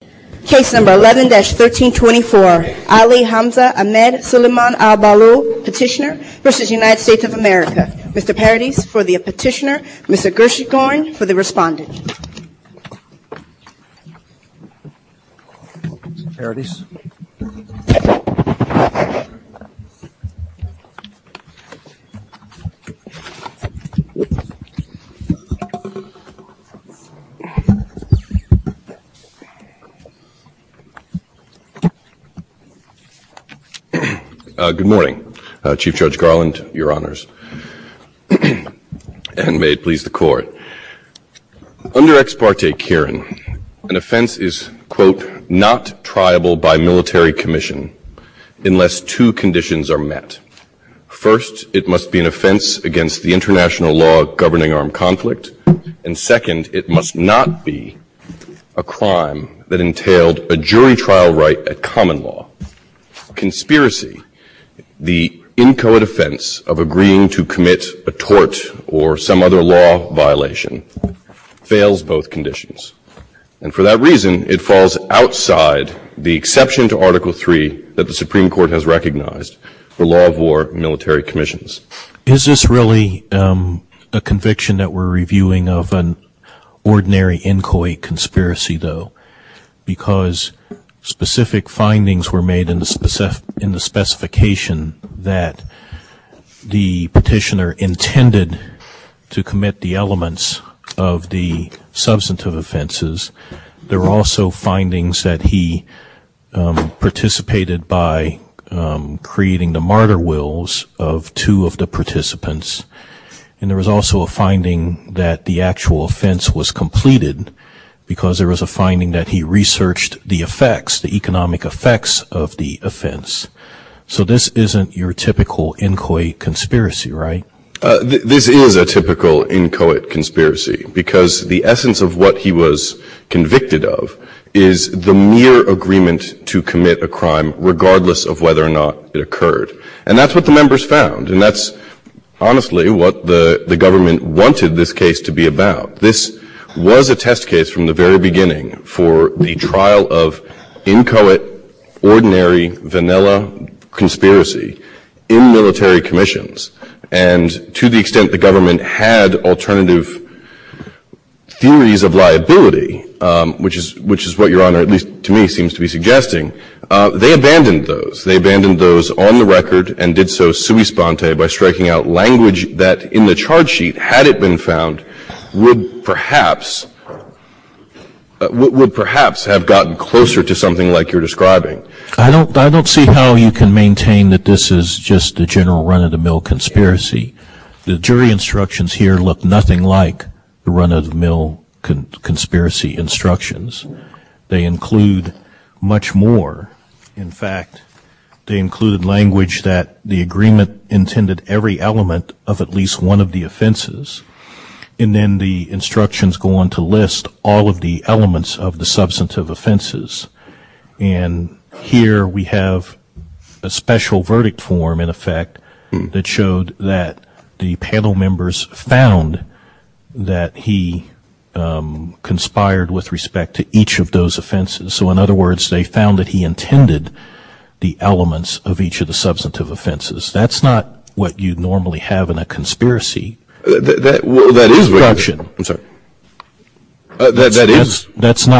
of America. Mr. Paradis for the petitioner, Mr. Gershethorn for the respondent. Good morning, Chief Judge Garland, Your Honors, and may it please the Court. Under Ex parte Cairn, an offense is, quote, not triable by military commission unless two conditions are met. First, it must be an offense against the international law governing armed conflict, and second, it must not be a crime that entailed a jury trial right at common law. Conspiracy, the inchoate offense of agreeing to commit a tort or some other law violation, fails both conditions. And for that reason, it falls outside the exception to Article III that the Supreme Court has recognized for law of war and military commissions. Is this really a conviction that we're reviewing of an ordinary inchoate conspiracy, though? Because specific findings were made in the specification that the petitioner intended to commit the elements of the substantive offenses. There were also findings that he participated by creating the martyr wills of two of the participants. And there was also a finding that the actual offense was completed because there was a finding that he researched the effects, the economic effects of the offense. So this isn't your typical inchoate conspiracy, right? This is a typical inchoate conspiracy because the essence of what he was convicted of is the mere agreement to commit a crime regardless of whether or not it occurred. And that's what the members found. And that's honestly what the government wanted this case to be about. This was a test case from the very beginning for the trial of inchoate, ordinary, vanilla conspiracy in military commissions. And to the extent the government had alternative theories of liability, which is what your Honor, at least to me, seems to be suggesting, they abandoned those. They abandoned those on the record and did so sui sponte by striking out language that in the charge sheet, had it been found, would perhaps have gotten closer to something like you're describing. I don't see how you can maintain that this is just the general run-of-the-mill conspiracy. The jury instructions here look nothing like the run-of-the-mill conspiracy instructions. They include much more. In fact, they include language that the agreement intended every element of at least one of the offenses. And then the instructions go on to list all of the elements of the substantive offenses. And here we have a special verdict form in effect that showed that the panel members found that he conspired with respect to each of those offenses. So in other words, they found that he intended the elements of each of the substantive offenses. That's not what you normally have in a conspiracy. That's not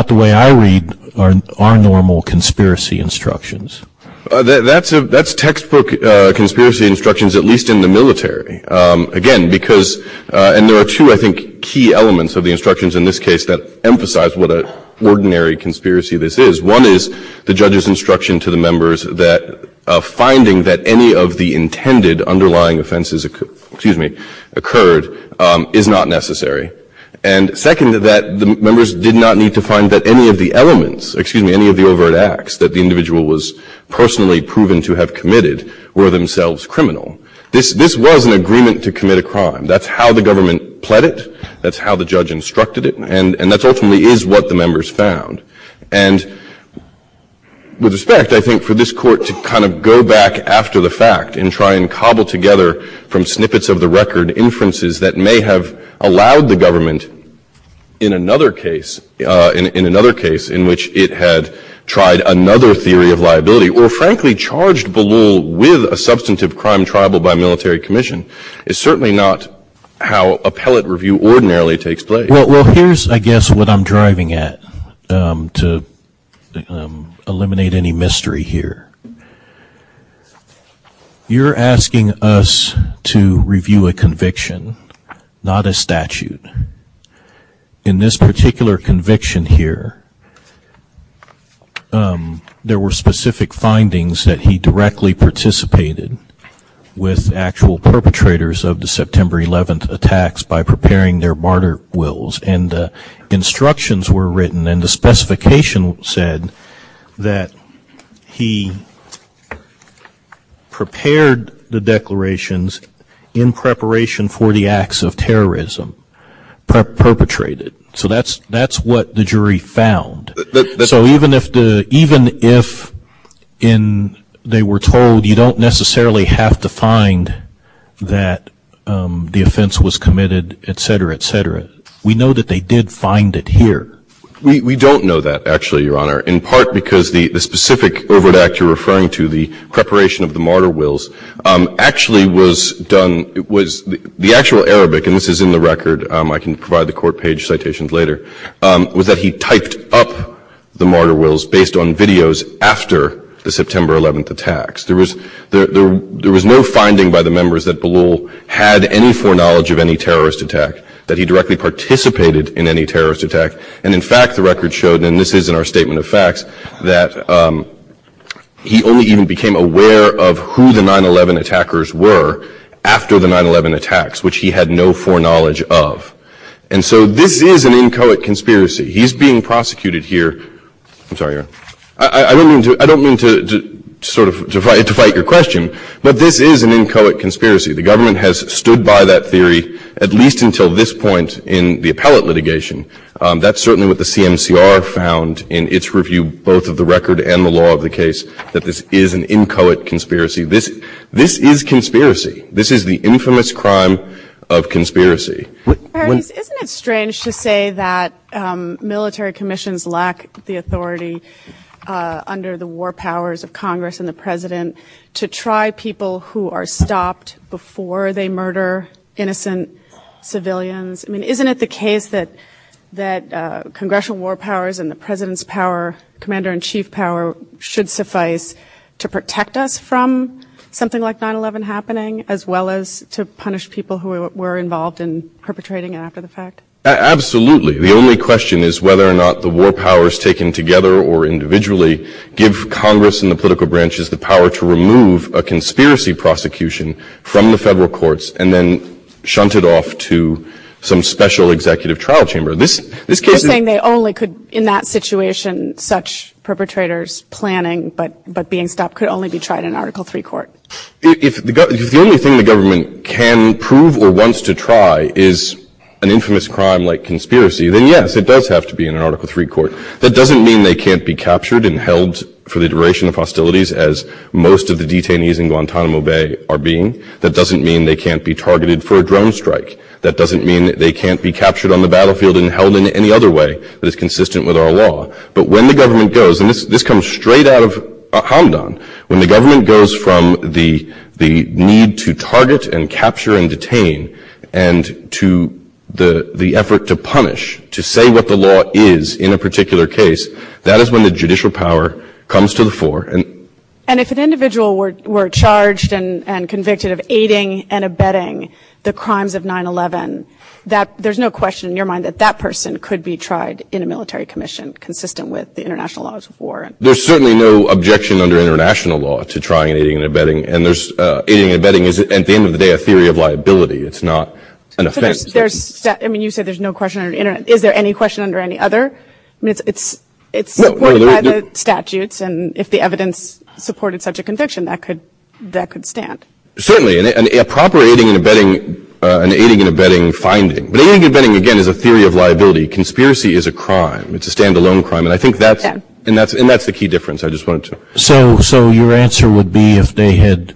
the way I read our normal conspiracy instructions. That's textbook conspiracy instructions, at least in the military. And there are two, I think, key elements of the instructions in this case that emphasize what an ordinary conspiracy this is. One is the judge's instruction to the members that finding that any of the intended underlying offenses occurred is not necessary. And second is that the members did not need to find that any of the elements, excuse me, any of the overt acts that the individual was personally proven to have committed were themselves criminal. This was an agreement to commit a crime. That's how the government pled it. That's how the judge instructed it. And that's ultimately is what the members found. And with respect, I think for this court to kind of go back after the fact and try and cobble together from snippets of the record, inferences that may have allowed the government in another case, in another case in which it had tried another theory of liability or frankly charged with a substantive crime tribal by military commission is certainly not how appellate review ordinarily takes place. Well, here's I guess what I'm driving at to eliminate any mystery here. You're asking us to review a conviction, not a statute. In this particular conviction here, there were specific findings that he directly participated with actual perpetrators of the September 11th attacks by preparing their martyr wills. And the instructions were written and the that he prepared the declarations in preparation for the acts of terrorism perpetrated. So that's that's what the jury found. So even if the even if in they were told you don't necessarily have to find that the offense was committed, et cetera, et cetera. We know that they did find it here. We don't know that actually, Your Honor, in part because the specific over that you're referring to, the preparation of the martyr wills actually was done. It was the actual Arabic. And this is in the record. I can provide the court page citations later was that he typed up the martyr wills based on videos after the September 11th attacks. There was there was no finding by the members that the law had any foreknowledge of any terrorist attack that he directly participated in any terrorist attack. And in fact, the record showed, and this is in our statement of facts, that he only even became aware of who the 9-11 attackers were after the 9-11 attacks, which he had no foreknowledge of. And so this is an inchoate conspiracy. He's being prosecuted here. I'm sorry. I don't mean to I don't mean to sort of divide your question, but this is an inchoate conspiracy. The government has stood by that this point in the appellate litigation. That's certainly what the CMCR found in its review, both of the record and the law of the case, that this is an inchoate conspiracy. This this is conspiracy. This is the infamous crime of conspiracy. Isn't it strange to say that military commissions lack the authority under the war powers of Congress? Isn't it the case that congressional war powers and the president's power, commander in chief power, should suffice to protect us from something like 9-11 happening, as well as to punish people who were involved in perpetrating after the fact? Absolutely. The only question is whether or not the war powers taken together or individually give Congress and the political branches the power to remove a conspiracy prosecution from federal courts and then shunt it off to some special executive trial chamber. This is saying they only could in that situation, such perpetrators planning, but but being stopped could only be tried in Article three court. If the only thing the government can prove or wants to try is an infamous crime like conspiracy, then yes, it does have to be in Article three court. That doesn't mean they can't be captured and held for the duration of hostilities, as most of the detainees in Guantanamo Bay are being. That doesn't mean they can't be targeted for a drone strike. That doesn't mean they can't be captured on the battlefield and held in any other way that is consistent with our law. But when the government goes, and this comes straight out of Hamdan, when the government goes from the need to target and capture and detain and to the effort to punish, to say what the law is in a particular case, that is when the judicial power comes to the fore. And if an individual were charged and convicted of aiding and abetting the crimes of 9-11, there's no question in your mind that that person could be tried in a military commission consistent with the international laws of war? There's certainly no objection under international law to trying aiding and abetting. And there's aiding and abetting is at the end of the day, a theory of liability. It's not an offense. I mean, you said there's no question on the internet. Is there any question under any other? It's statutes, and if the evidence supported such a conviction, that could stand. Certainly. And a proper aiding and abetting finding. But aiding and abetting, again, is a theory of liability. Conspiracy is a crime. It's a standalone crime. And I think that's the key difference. I just wanted to... So your answer would be if they had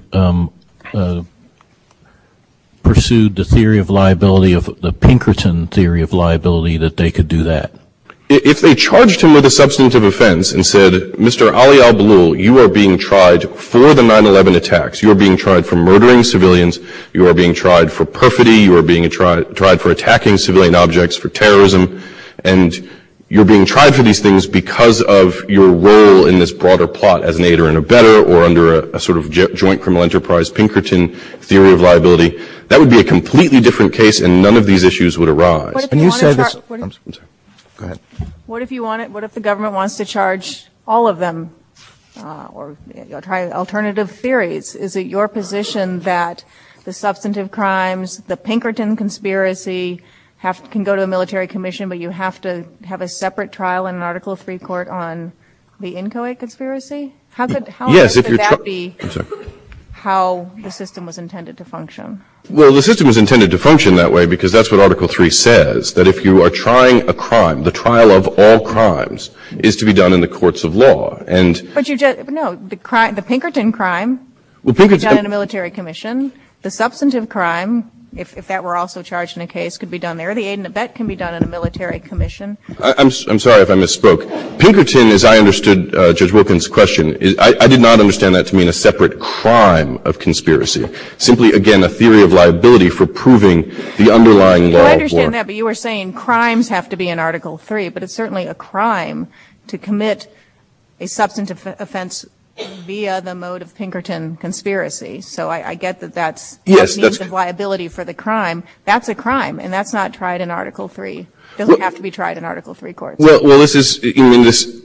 pursued the theory of liability, the Pinkerton theory of liability, that they could do that? If they charged him with a substantive offense and said, Mr. Ali al-Balul, you are being tried for the 9-11 attacks. You are being tried for murdering civilians. You are being tried for perfidy. You are being tried for attacking civilian objects for terrorism. And you're being tried for these things because of your role in this broader plot as an aider and abetter, or under a sort of joint criminal enterprise Pinkerton theory of liability. That would be a completely different case, and none of these issues would arise. What if you want it? What if the government wants to charge all of them or try alternative theories? Is it your position that the substantive crimes, the Pinkerton conspiracy can go to a military commission, but you have to have a separate trial in an Article III court on the Inchoate conspiracy? How much would that be how the system was intended to function? Well, the system was intended to function that way because that's what Article III says, that if you are trying a crime, the trial of all crimes is to be done in the courts of law. But you just, no, the Pinkerton crime could be done in a military commission. The substantive crime, if that were also charged in a case, could be done there. The aid and abet can be done in a military commission. I'm sorry if I misspoke. Pinkerton, as I understood Judge Wilkins' question, I did not understand that to mean a separate crime of conspiracy. Simply, again, a theory of liability for proving the underlying law of war. I understand that, but you were saying crimes have to be in Article III, but it's certainly a crime to commit a substantive offense via the mode of Pinkerton conspiracy. So I get that that is a liability for the crime. That's a crime, and that's not tried in Article III. It doesn't have to be tried in Article III court. Well, this is, you know, this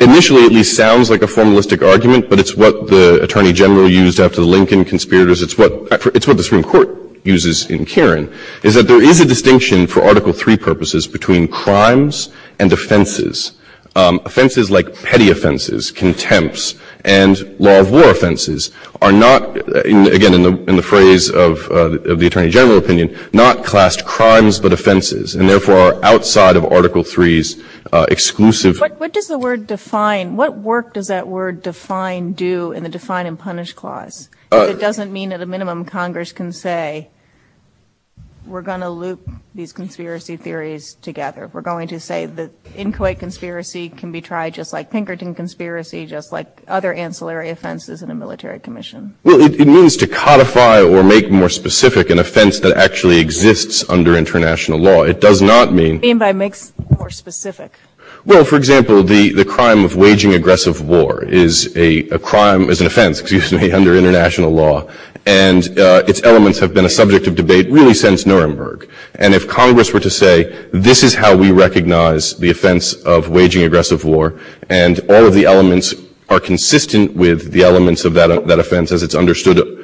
initially at least sounds like a formalistic argument, but it's what the attorney general used after the Lincoln conspirators. It's what the Supreme Court uses in Karen, is that there is a distinction for Article III purposes between crimes and offenses. Offenses like petty offenses, contempts, and law of war offenses are not, again, in the phrase of the attorney general opinion, not classed crimes but offenses, and therefore are outside of Article III's exclusive. But what does the word define? What work does that word define do in the define and punish clause? It doesn't mean at a minimum Congress can say we're going to loop these conspiracy theories together. We're going to say that Inquiet conspiracy can be tried just like Pinkerton conspiracy, just like other ancillary offenses in a military commission. Well, it means to codify or make more specific an offense that actually exists under international law. It does not mean... Mean by make more specific. Well, for example, the crime of waging aggressive war is a crime as an offense, excuse me, under international law, and its elements have been a subject of debate really since Nuremberg. And if Congress were to say, this is how we recognize the offense of waging aggressive war, and all of the elements are consistent with the elements of that offense as it's understood...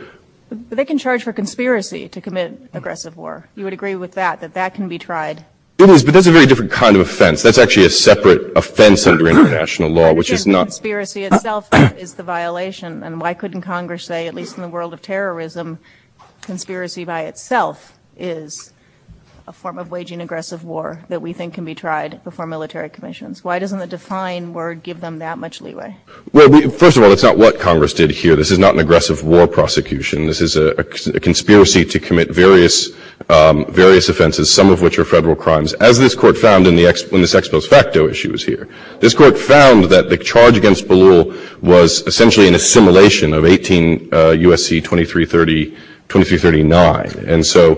But they can charge for conspiracy to commit aggressive war. You would agree with that, that that can be tried. It was, but that's a very different kind of offense. That's actually a separate offense under international law, which is not... Conspiracy itself is the violation. And why couldn't Congress say, at least in the world of terrorism, conspiracy by itself is a form of waging aggressive war that we think can be tried before military commissions? Why doesn't the define word give them that much leeway? Well, first of all, it's not what Congress did here. This is not an aggressive war prosecution. This is a conspiracy to commit various offenses, some of which are federal crimes, as this court found in this ex post facto issues here. This court found that the charge against Ballou was essentially an assimilation of 18 U.S.C. 2339. And so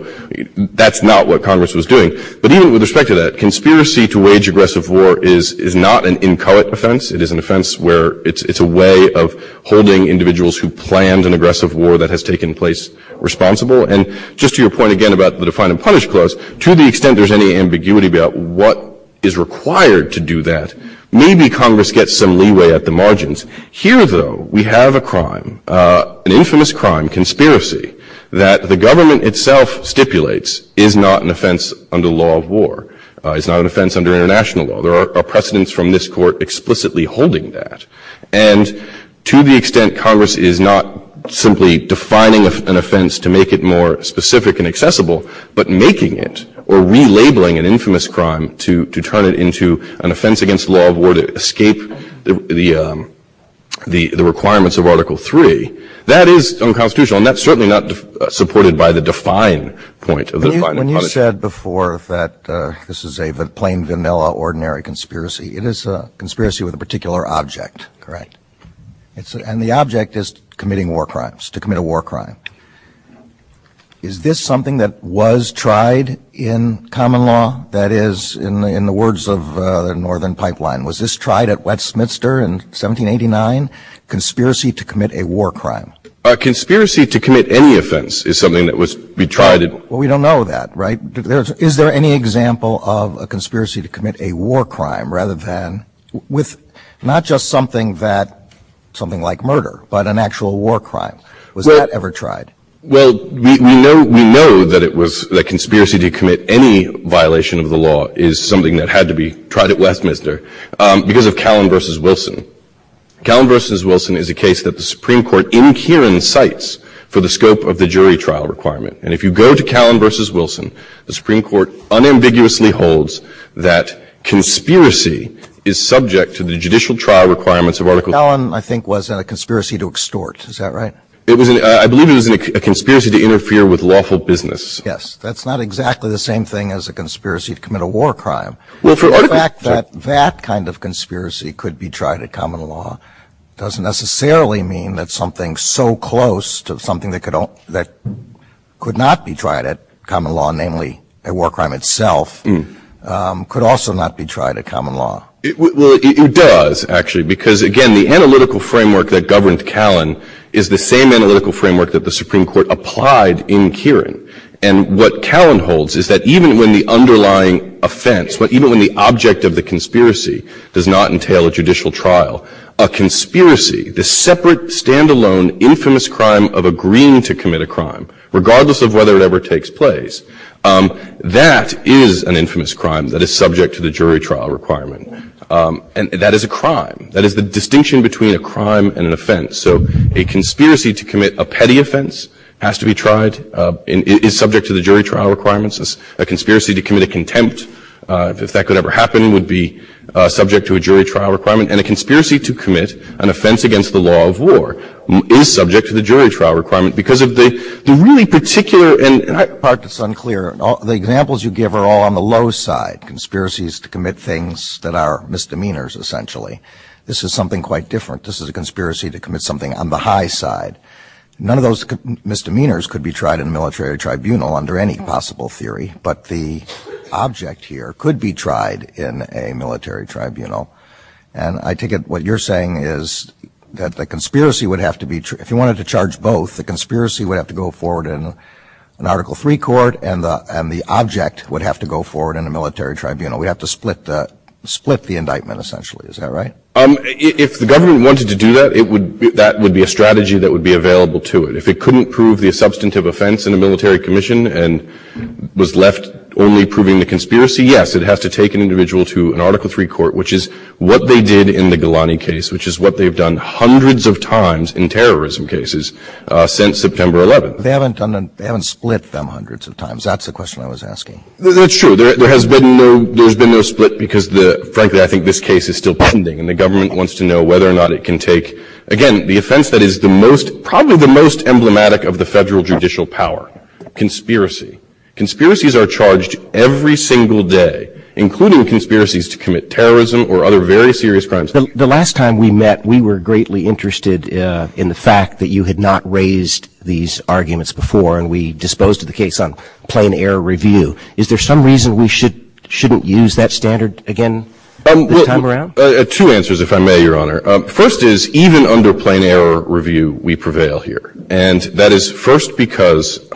that's not what Congress was doing. But even with respect to that, conspiracy to wage aggressive war is not an incumbent offense. It is an offense where it's a way of holding individuals who planned an aggressive war that has taken place responsible. And just to your point again about the define and punish clause, to the extent there's any ambiguity about what is required to do that, maybe Congress gets some leeway at the margins. Here, though, we have a crime, an infamous crime, conspiracy, that the government itself stipulates is not an offense under the law of war. It's not an offense under international law. There are precedents from this court explicitly holding that. And to the extent that Congress is not simply defining an offense to make it more specific and accessible, but making it or relabeling an infamous crime to turn it into an offense against the law of war to escape the requirements of Article III, that is unconstitutional. And that's certainly not supported by the define point of the define and punish. When you said before that this is a plain, vanilla, ordinary conspiracy, it is a conspiracy with a particular object. And the object is committing war crimes, to commit a war crime. Is this something that was tried in common law? That is, in the words of the Northern Pipeline, was this tried at Westminster in 1789? Conspiracy to commit a war crime? A conspiracy to commit any offense is something that was tried. Well, we don't know that, right? Is there any example of a conspiracy to commit a war crime, rather than, with not just something that, something like murder, but an actual war crime? Was that ever tried? Well, we know that it was, that conspiracy to commit any violation of the law is something that had to be tried at Westminster because of Callan v. Wilson. Callan v. Wilson is a case that the Supreme Court in Kieran cites for the scope of the jury trial requirement. And if you go to Callan v. Wilson, the Supreme Court unambiguously holds that conspiracy is subject to the judicial trial requirements of Article... Callan, I think, was a conspiracy to extort. Is that right? It was, I believe it was a conspiracy to interfere with lawful business. Yes. That's not exactly the same thing as a conspiracy to commit a war crime. Well, for Article... The fact that that kind of conspiracy could be tried in common law doesn't necessarily mean that something so close to something that could not be tried at common law, namely a war crime itself, could also not be tried at common law. It does, actually, because again, the analytical framework that governed Callan is the same analytical framework that the Supreme Court applied in Kieran. And what Callan holds is that even when the underlying offense, but even when the object of the conspiracy does not entail a judicial trial, a conspiracy, the separate, standalone, infamous crime of agreeing to commit a crime, regardless of whether it ever takes place, that is an infamous crime that is subject to the jury trial requirement. And that is a crime. That is the distinction between a crime and an offense. So a conspiracy to commit a petty offense has to be tried and is subject to the jury trial requirements. A conspiracy to commit a contempt, if that could ever happen, would be subject to a jury trial requirement. And a conspiracy to commit an offense against the law of war is subject to the jury trial requirement because of the really particular and... That part that's unclear. The examples you give are all on the low side, conspiracies to commit things that are misdemeanors, essentially. This is something quite different. This is a conspiracy to commit something on the high side. None of those misdemeanors could be tried in a military tribunal under any possible theory, but the object here could be tried in a military tribunal. And I take it what you're saying is that the conspiracy would have to be... If you wanted to charge both, the conspiracy would have to go forward in an Article III court and the object would have to go forward in a military tribunal. We'd have to split the indictment, essentially. Is that right? If the government wanted to do that, that would be a strategy that would be available to it. If it couldn't prove the substantive offense in a military commission and was left only proving the conspiracy, yes, it has to take an individual to an Article III court, which is what they did in the Ghilani case, which is what they've done hundreds of times in terrorism cases since September 11th. They haven't split them hundreds of times. That's the question I was asking. That's true. There has been no split because, frankly, I think this case is still pending and the government wants to know whether or not it can take... Again, the offense that is probably the most emblematic of the federal judicial power, conspiracy. Conspiracies are charged every single day, including conspiracies to commit terrorism or other very serious crimes. The last time we met, we were greatly interested in the fact that you had not raised these arguments before and we disposed of the case on plain error review. Is there some reason we shouldn't use that standard again this time around? Two answers, if I may, Your Honor. First is, even under plain error review, we prevail here. That is first because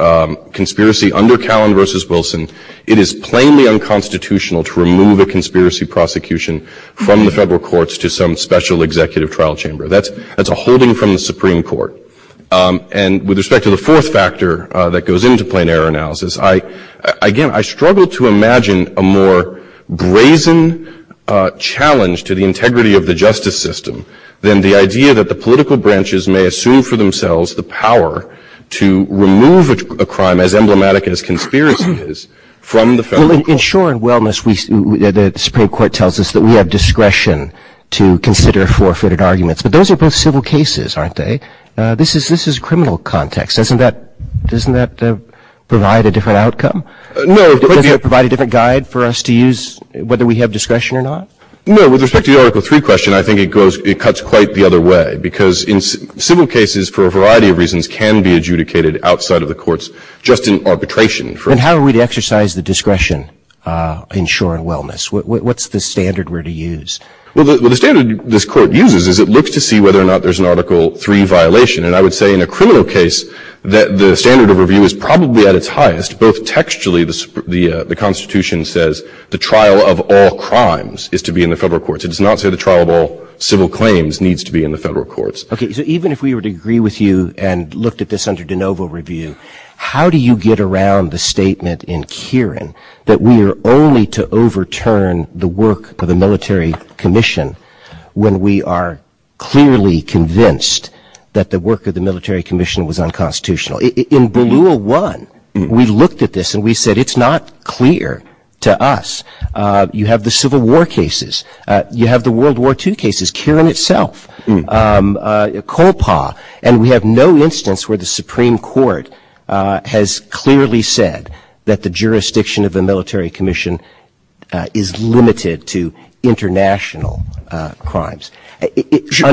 conspiracy under Callan v. Wilson, it is plainly unconstitutional to remove a conspiracy prosecution from the federal courts to some special executive trial chamber. That's a holding from the Supreme Court. With respect to the fourth factor that goes into plain error analysis, again, I struggle to imagine a more brazen challenge to the integrity of the justice system than the idea that the political branches may assume for themselves the power to remove a crime as emblematic as conspiracy is from the federal courts. In Shore and Wellness, the Supreme Court tells us that we have discretion to consider forfeited arguments, but those are both civil cases, aren't they? This is criminal context. Doesn't that provide a different outcome? Does it provide a different guide for us to use, whether we have discretion or not? No. With respect to the Article 3 question, I think it cuts quite the other way because in civil cases, for a variety of reasons, can be adjudicated outside of the courts just in arbitration. How are we to exercise the discretion in Shore and Wellness? What's the standard we're to use? Well, the standard this court uses is it looks to see whether or not there's an Article 3 violation. I would say in a criminal case that the standard of review is probably at its highest, both textually, the Constitution says the trial of all crimes is to be in the federal courts. It does not say the trial of all civil claims needs to be in the federal courts. Okay, so even if we were to agree with you and looked at this under de novo review, how do you get around the statement in Kieran that we are only to overturn the work of the military commission when we are clearly convinced that the work of the military commission was unconstitutional? In Bill 1, we looked at this and we said it's not clear to us. You have the Civil War cases, you have the World War II cases, Kieran itself, and we have no instance where the Supreme Court has clearly said that the jurisdiction of the military commission is limited to international crimes. You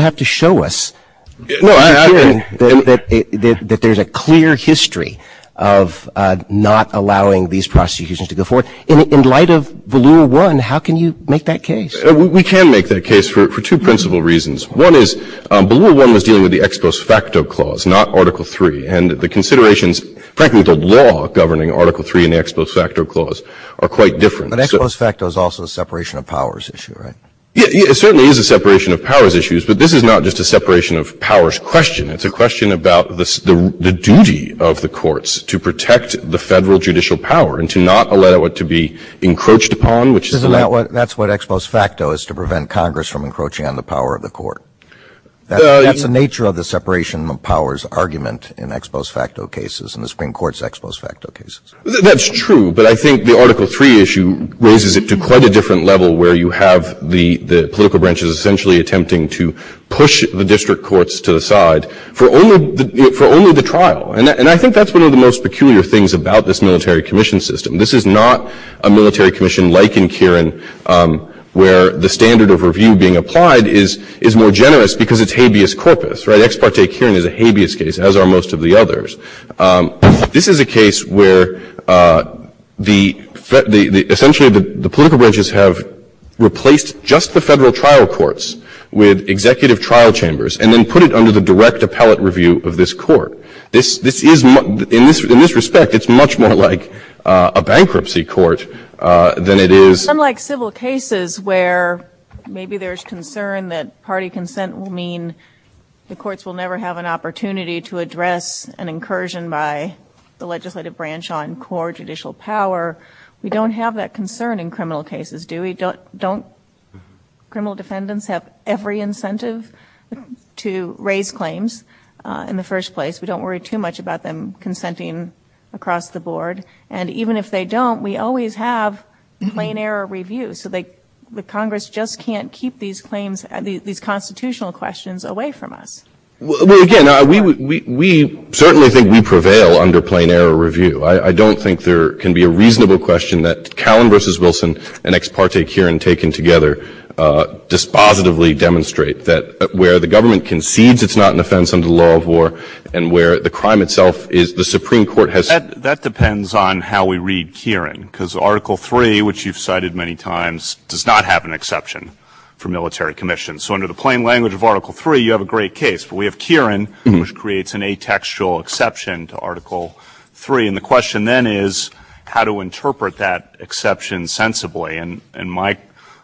have to show us that there's a clear history of not allowing these prosecutions to go forward. In light of Bill 1, how can you make that case? We can make that case for two principal reasons. One is Bill 1 was dealing with the ex-prospecto clause, not Article 3, and the considerations, frankly the law governing Article 3 and the ex-prospecto clause are quite different. But ex-prospecto is also a separation of powers issue, right? Yeah, it certainly is a separation of powers issue, but this is not just a separation of powers question. It's a question about the duty of the courts to protect the federal judicial power and to not allow it to be encroached upon. Isn't that what ex-prospecto is to prevent Congress from encroaching on the power of the court? That's the nature of the separation of powers argument in ex-prospecto cases and the Supreme Court's ex-prospecto cases. That's true, but I think the Article 3 issue raises it to quite a different level where you have the political branches essentially attempting to push the district courts to the side for only the trial, and I think that's one of the most peculiar things about this military commission system. This is not a military commission like in Kieran where the standard of review being applied is more generous because it's habeas corpus, right? Ex parte Kieran is a habeas case, as are most of the others. This is a case where essentially the political branches have replaced just the federal trial courts with executive trial chambers and then put it under the direct appellate review of this court. In this respect, it's much more like a bankruptcy court than it is— Unlike civil cases where maybe there's concern that party consent will mean the courts will never have an opportunity to address an incursion by the legislative branch on core judicial power, we don't have that concern in criminal cases, do we? Don't criminal defendants have every incentive to raise claims in the first place? We don't worry too much about them consenting across the board, and even if they don't, we always have plain error review, so the Congress just can't keep these constitutional questions away from us. Again, we certainly think we prevail under plain error review. I don't think there can be a reasonable question that Callan v. Wilson and ex parte Kieran taken together dispositively demonstrate that where the government concedes it's not an offense under the law of war and where the crime itself is, the Supreme Court has— That depends on how we read Kieran because Article III, which you've cited many times, does not have an exception for military commission, so under the plain language of Article III, you have a great case. We have Kieran, which creates an atextual exception to Article III, and the question then is how to interpret that exception sensibly, and my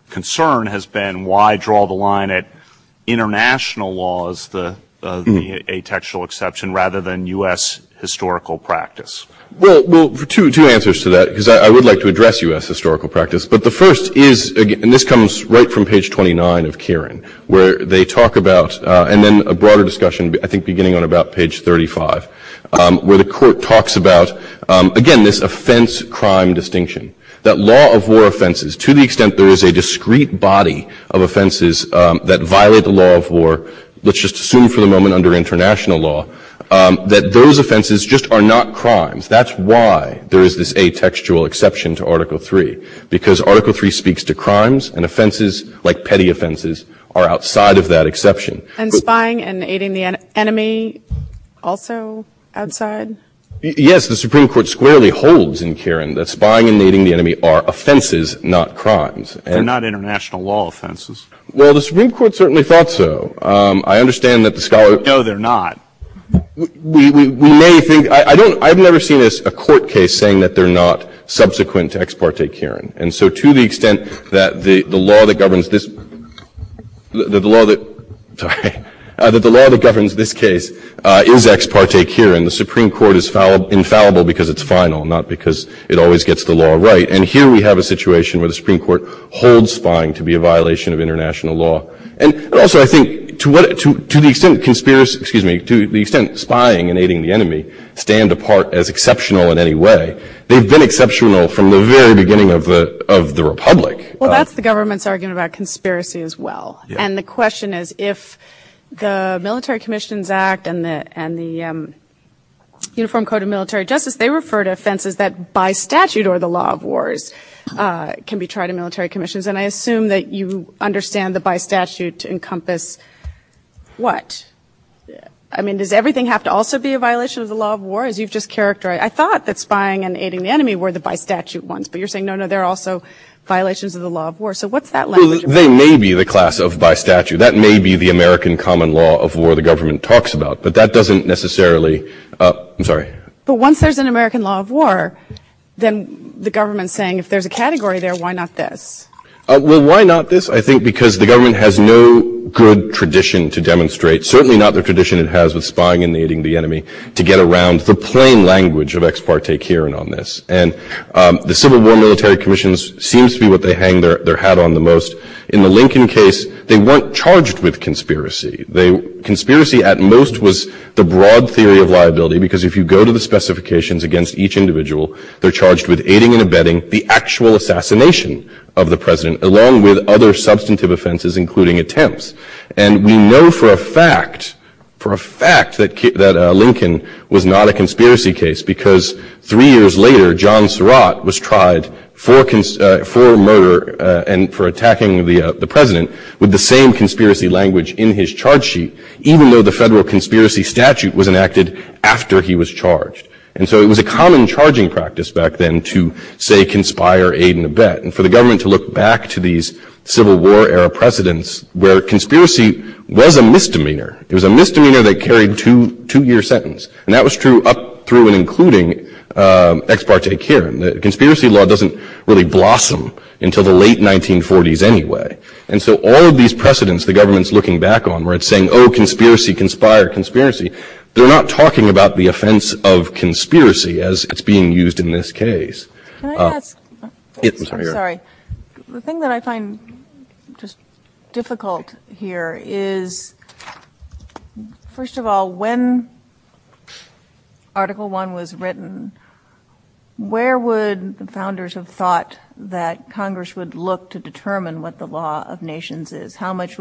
concern has been why draw the line at international laws, the atextual exception, rather than U.S. historical practice. Well, two answers to that because I would like to address U.S. historical practice, but the first is, and this comes right from page 29 of Kieran, where they talk about, and then a broader discussion, I think beginning on about page 35, where the Court talks about, again, this offense-crime distinction, that law of war offenses, to the extent there is a discrete body of offenses that violate the law of war, let's just assume for the moment under international law, that those offenses just are not crimes. That's why there is this atextual exception to Article III, because Article III speaks to crimes, and offenses, like petty offenses, are outside of that exception. And spying and aiding the enemy also outside? Yes, the Supreme Court squarely holds in Kieran that spying and aiding the enemy are offenses, not crimes. They're not international law offenses. Well, the Supreme Court certainly thought so. I understand that the scholar... No, they're not. We may think... I don't... I've never seen a court case saying that they're not subsequent to ex parte Kieran. And so, to the extent that the law that governs this... that the law that... Sorry. That the law that governs this case is ex parte Kieran, the Supreme Court is infallible because it's final, not because it always gets the law right. And here we have a situation where the Supreme Court holds spying to be a violation of international law. And also, I think, to the extent spying and aiding the enemy stand apart as exceptional in any way, they've been exceptional from the very beginning of the Republic. Well, that's the government's argument about conspiracy as well. And the question is, if the Military Commissions Act and the Uniform Code of Military Justice, they refer to offenses that, by statute or the law of wars, can be tried in military encompass what? I mean, does everything have to also be a violation of the law of war, as you've just characterized? I thought that spying and aiding the enemy were the by statute ones. But you're saying, no, no, they're also violations of the law of war. So what's that language? They may be the class of by statute. That may be the American common law of war the government talks about. But that doesn't necessarily... I'm sorry. But once there's an American law of war, then the government's saying, if there's a category there, why not this? Well, why not this? Because the government has no good tradition to demonstrate, certainly not the tradition it has of spying and aiding the enemy, to get around the plain language of ex parte Kieran on this. And the Civil War Military Commissions seems to be what they hang their hat on the most. In the Lincoln case, they weren't charged with conspiracy. Conspiracy, at most, was the broad theory of liability. Because if you go to the specifications against each individual, they're charged with aiding and abetting the actual assassination of the president, along with other substantive offenses, including attempts. And we know for a fact that Lincoln was not a conspiracy case, because three years later, John Surratt was tried for murder and for attacking the president with the same conspiracy language in his charge sheet, even though the federal conspiracy statute was enacted after he was charged. And so it was a common charging practice back then to, say, conspire, aid, and abet. And for the government to look back to these Civil War-era precedents, where conspiracy was a misdemeanor, it was a misdemeanor that carried two-year sentence. And that was true up through and including ex parte Kieran. The conspiracy law doesn't really blossom until the late 1940s anyway. And so all of these precedents the government's looking back on, where it's saying, oh, conspiracy, conspire, conspiracy, they're not talking about the offense of conspiracy as it's being used in this case. Can I ask? Yes, I'm sorry, go ahead. Sorry. The thing that I find just difficult here is, first of all, when Article I was written, where would the founders have thought that Congress would look to determine what the How much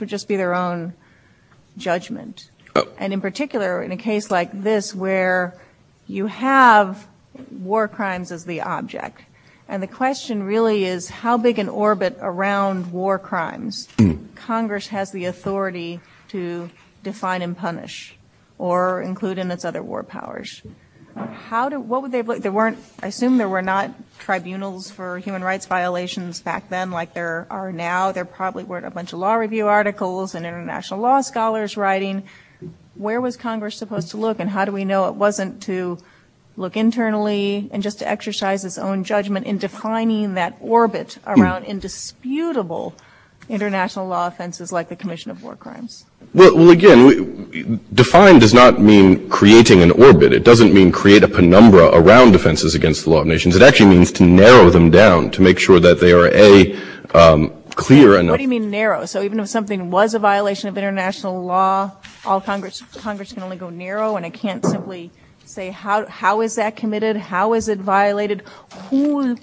would just be their own judgment? And in particular, in a case like this, where you have war crimes as the object. And the question really is, how big an orbit around war crimes Congress has the authority to define and punish, or include in its other war powers? How do, what would they, there weren't, I assume there were not tribunals for human rights violations back then like there are now. There probably weren't a bunch of law review articles and international law scholars writing, where was Congress supposed to look? And how do we know it wasn't to look internally and just to exercise its own judgment in defining that orbit around indisputable international law offenses like the commission of war crimes? Well, again, define does not mean creating an orbit. It doesn't mean create a penumbra around offenses against the law of nations. It actually means to narrow them down to make sure that they are a clear and narrow. So even if something was a violation of international law, all Congress, Congress can only go narrow. And I can't simply say, how is that committed? How is it violated? Who is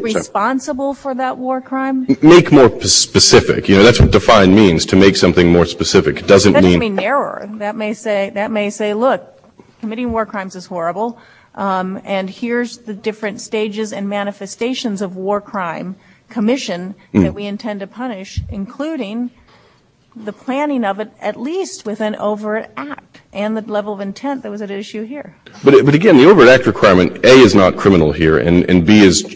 responsible for that war crime? Make more specific, you know, that's what define means to make something more specific. It doesn't mean that may say that may say, look, committing war crimes is horrible. And here's the different stages and manifestations of war crime commission that we intend to punish, including the planning of it, at least with an overact and the level of intent that was at issue here. But again, the overact requirement A is not criminal here. And B is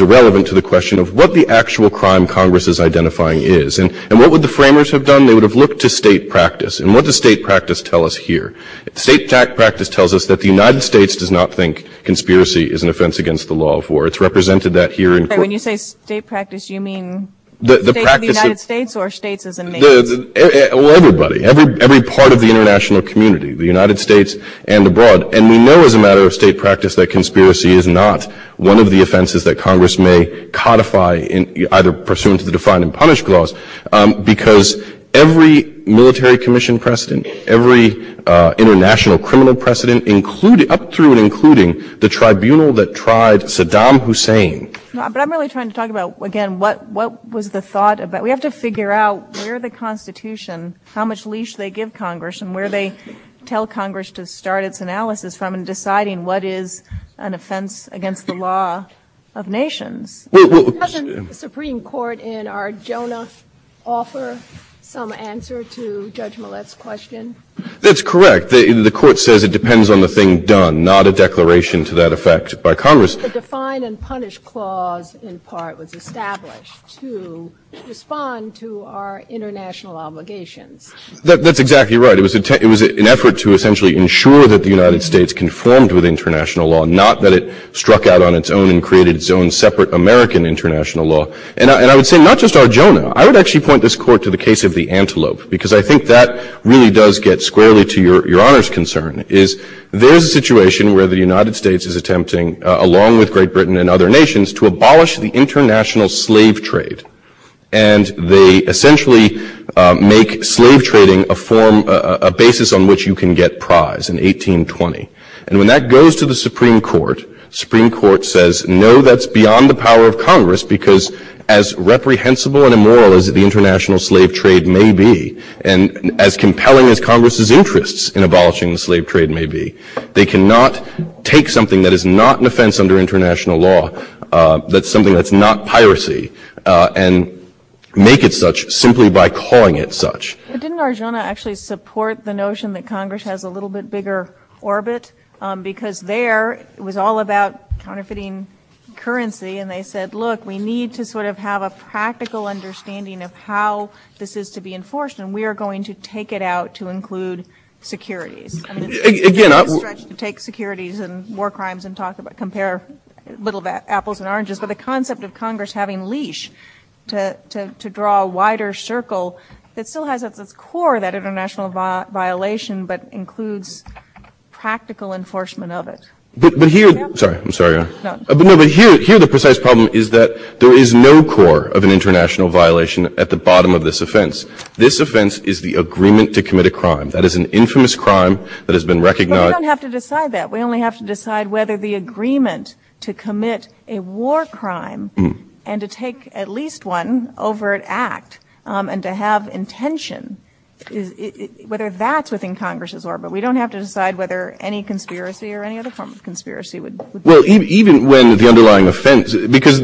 irrelevant to the question of what the actual crime Congress is identifying is. And what would the framers have done? They would have looked to state practice. And what does state practice tell us here? State practice tells us that the United States does not think conspiracy is an offense against the law of war. It's represented that here. And when you say state practice, you mean the United States or states as a nation? Well, everybody, every, every part of the international community, the United States and abroad. And we know as a matter of state practice, that conspiracy is not one of the offenses that Congress may codify in either pursuant to the defined and punish clause, because every military commission precedent, every international criminal precedent, including up through and including the tribunal that tried Saddam Hussein. But I'm really trying to talk about, again, what, what was the thought of that? We have to figure out where the constitution, how much leash they give Congress and where they tell Congress to start its analysis from and deciding what is an offense against the law of nation. Doesn't the Supreme Court in our Jonas offer some answer to Judge Millett's question? That's correct. The court says it depends on the thing done, not a declaration to that effect by Congress. The define and punish clause in part was established to respond to our international obligation. That's exactly right. It was an effort to essentially ensure that the United States conformed with international law, not that it struck out on its own and created its own separate American international law. And I would say not just our German. I would actually point this court to the case of the antelope, because I think that really does get squarely to your honor's concern, is there's a situation where the United States is attempting, along with Great Britain and other nations, to abolish the international slave trade. And they essentially make slave trading a form, a basis on which you can get prize in 1820. And when that goes to the Supreme Court, Supreme Court says, no, that's beyond the power of Congress, because as reprehensible and immoral as the international slave trade may be, and as compelling as Congress's interests in abolishing the slave trade may be, they cannot take something that is not an offense under international law. That's something that's not piracy and make it such simply by calling it such. Didn't Arjona actually support the notion that Congress has a little bit bigger orbit, because there was all about counterfeiting currency. And they said, look, we need to sort of have a practical understanding of how this is to be enforced. And we are going to take it out to include security. Take securities and war crimes and compare little apples and oranges. But the concept of Congress having leash to draw a wider circle, it still has at the core that international violation, but includes practical enforcement of it. But here, sorry, I'm sorry. Here, the precise problem is that there is no core of an international violation at the bottom of this offense. This offense is the agreement to commit a crime. That is an infamous crime that has been recognized. We don't have to decide that. We only have to decide whether the agreement to commit a war crime and to take at least one overt act and to have intention, whether that's within Congress's orbit. We don't have to decide whether any conspiracy or any other form of conspiracy would. Well, even when the underlying offense, because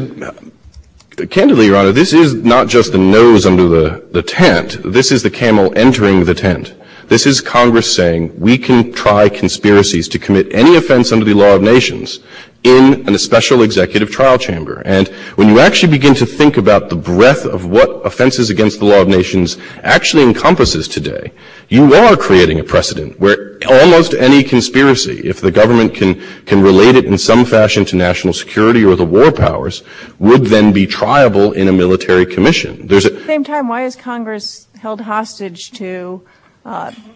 candidly, your honor, this is not just the nose under the tent. This is the camel entering the tent. This is Congress saying we can try conspiracies to commit any offense under the law of nations in a special executive trial chamber. When you actually begin to think about the breadth of what offenses against the law of nations actually encompasses today, you are creating a precedent where almost any conspiracy, if the government can relate it in some fashion to national security or the war powers, would then be triable in a military commission. At the same time, why is Congress held hostage to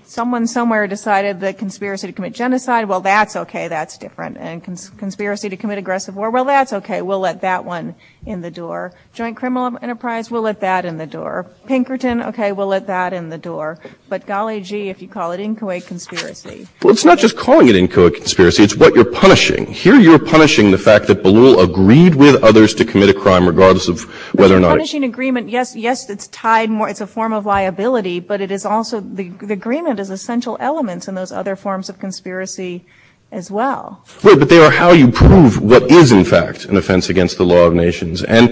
someone somewhere decided that conspiracy to commit genocide, well, that's okay. That's different. And conspiracy to commit aggressive war, well, that's okay. We'll let that one in the door. Joint criminal enterprise, we'll let that in the door. Pinkerton, okay, we'll let that in the door. But golly, gee, if you call it inchoate conspiracy. Well, it's not just calling it inchoate conspiracy. It's what you're punishing. Here, you're punishing the fact that Beloul agreed with others to commit a crime, regardless of whether or not it's an agreement. Yes, yes, it's tied more. It's a form of liability, but it is also the agreement is essential elements in those other forms of conspiracy as well. But they are how you prove what is, in fact, an offense against the law of nations. And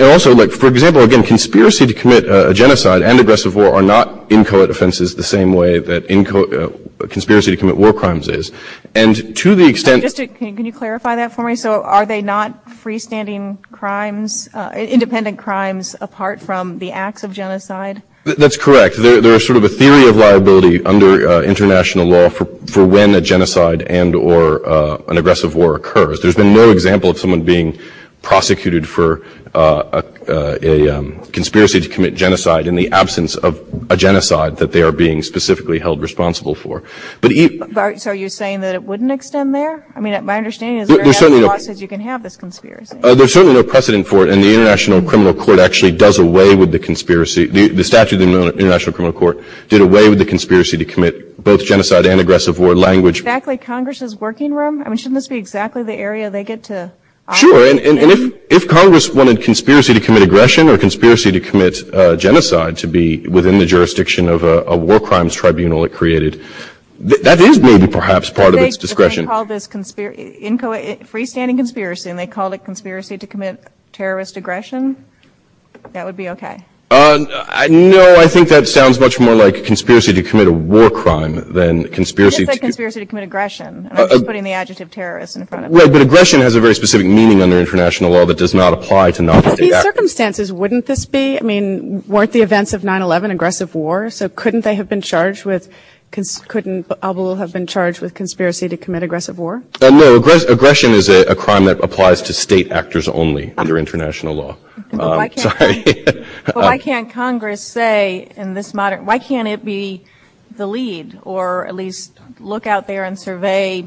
also, like, for example, again, conspiracy to commit a genocide and aggressive war are not inchoate offenses the same way that inchoate conspiracy to commit war crimes is. And to the extent... Can you clarify that for me? So are they not freestanding crimes, independent crimes, apart from the acts of genocide? That's correct. There's sort of a theory of liability under international law for when a genocide and or an aggressive war occurs. There's been no example of someone being prosecuted for a conspiracy to commit genocide in the absence of a genocide that they are being specifically held responsible for. So you're saying that it wouldn't extend there? I mean, my understanding is that you can have this conspiracy. There's certainly no precedent for it. And the International Criminal Court actually does away with the conspiracy. The statute of the International Criminal Court did away with the conspiracy to commit both genocide and aggressive war language. Exactly. Congress's working room? I mean, shouldn't this be exactly the area they get to... Sure. And if Congress wanted conspiracy to commit aggression or conspiracy to commit genocide to be within the jurisdiction of a war crimes tribunal it created, that is maybe perhaps part of its discretion. If they called this freestanding conspiracy and they called it conspiracy to commit terrorist aggression, that would be OK. No, I think that sounds much more like conspiracy to commit a war crime than conspiracy... It's like conspiracy to commit aggression. I'm just putting the adjective terrorist in front of it. Well, but aggression has a very specific meaning under international law that does not apply to non-state actors. Under these circumstances, wouldn't this be... I mean, weren't the events of 9-11 aggressive war? So couldn't they have been charged with... Couldn't Al Balul have been charged with conspiracy to commit aggressive war? No, aggression is a crime that applies to state actors only under international law. Sorry. But why can't Congress say in this modern... Why can't it be the lead or at least look out there and survey...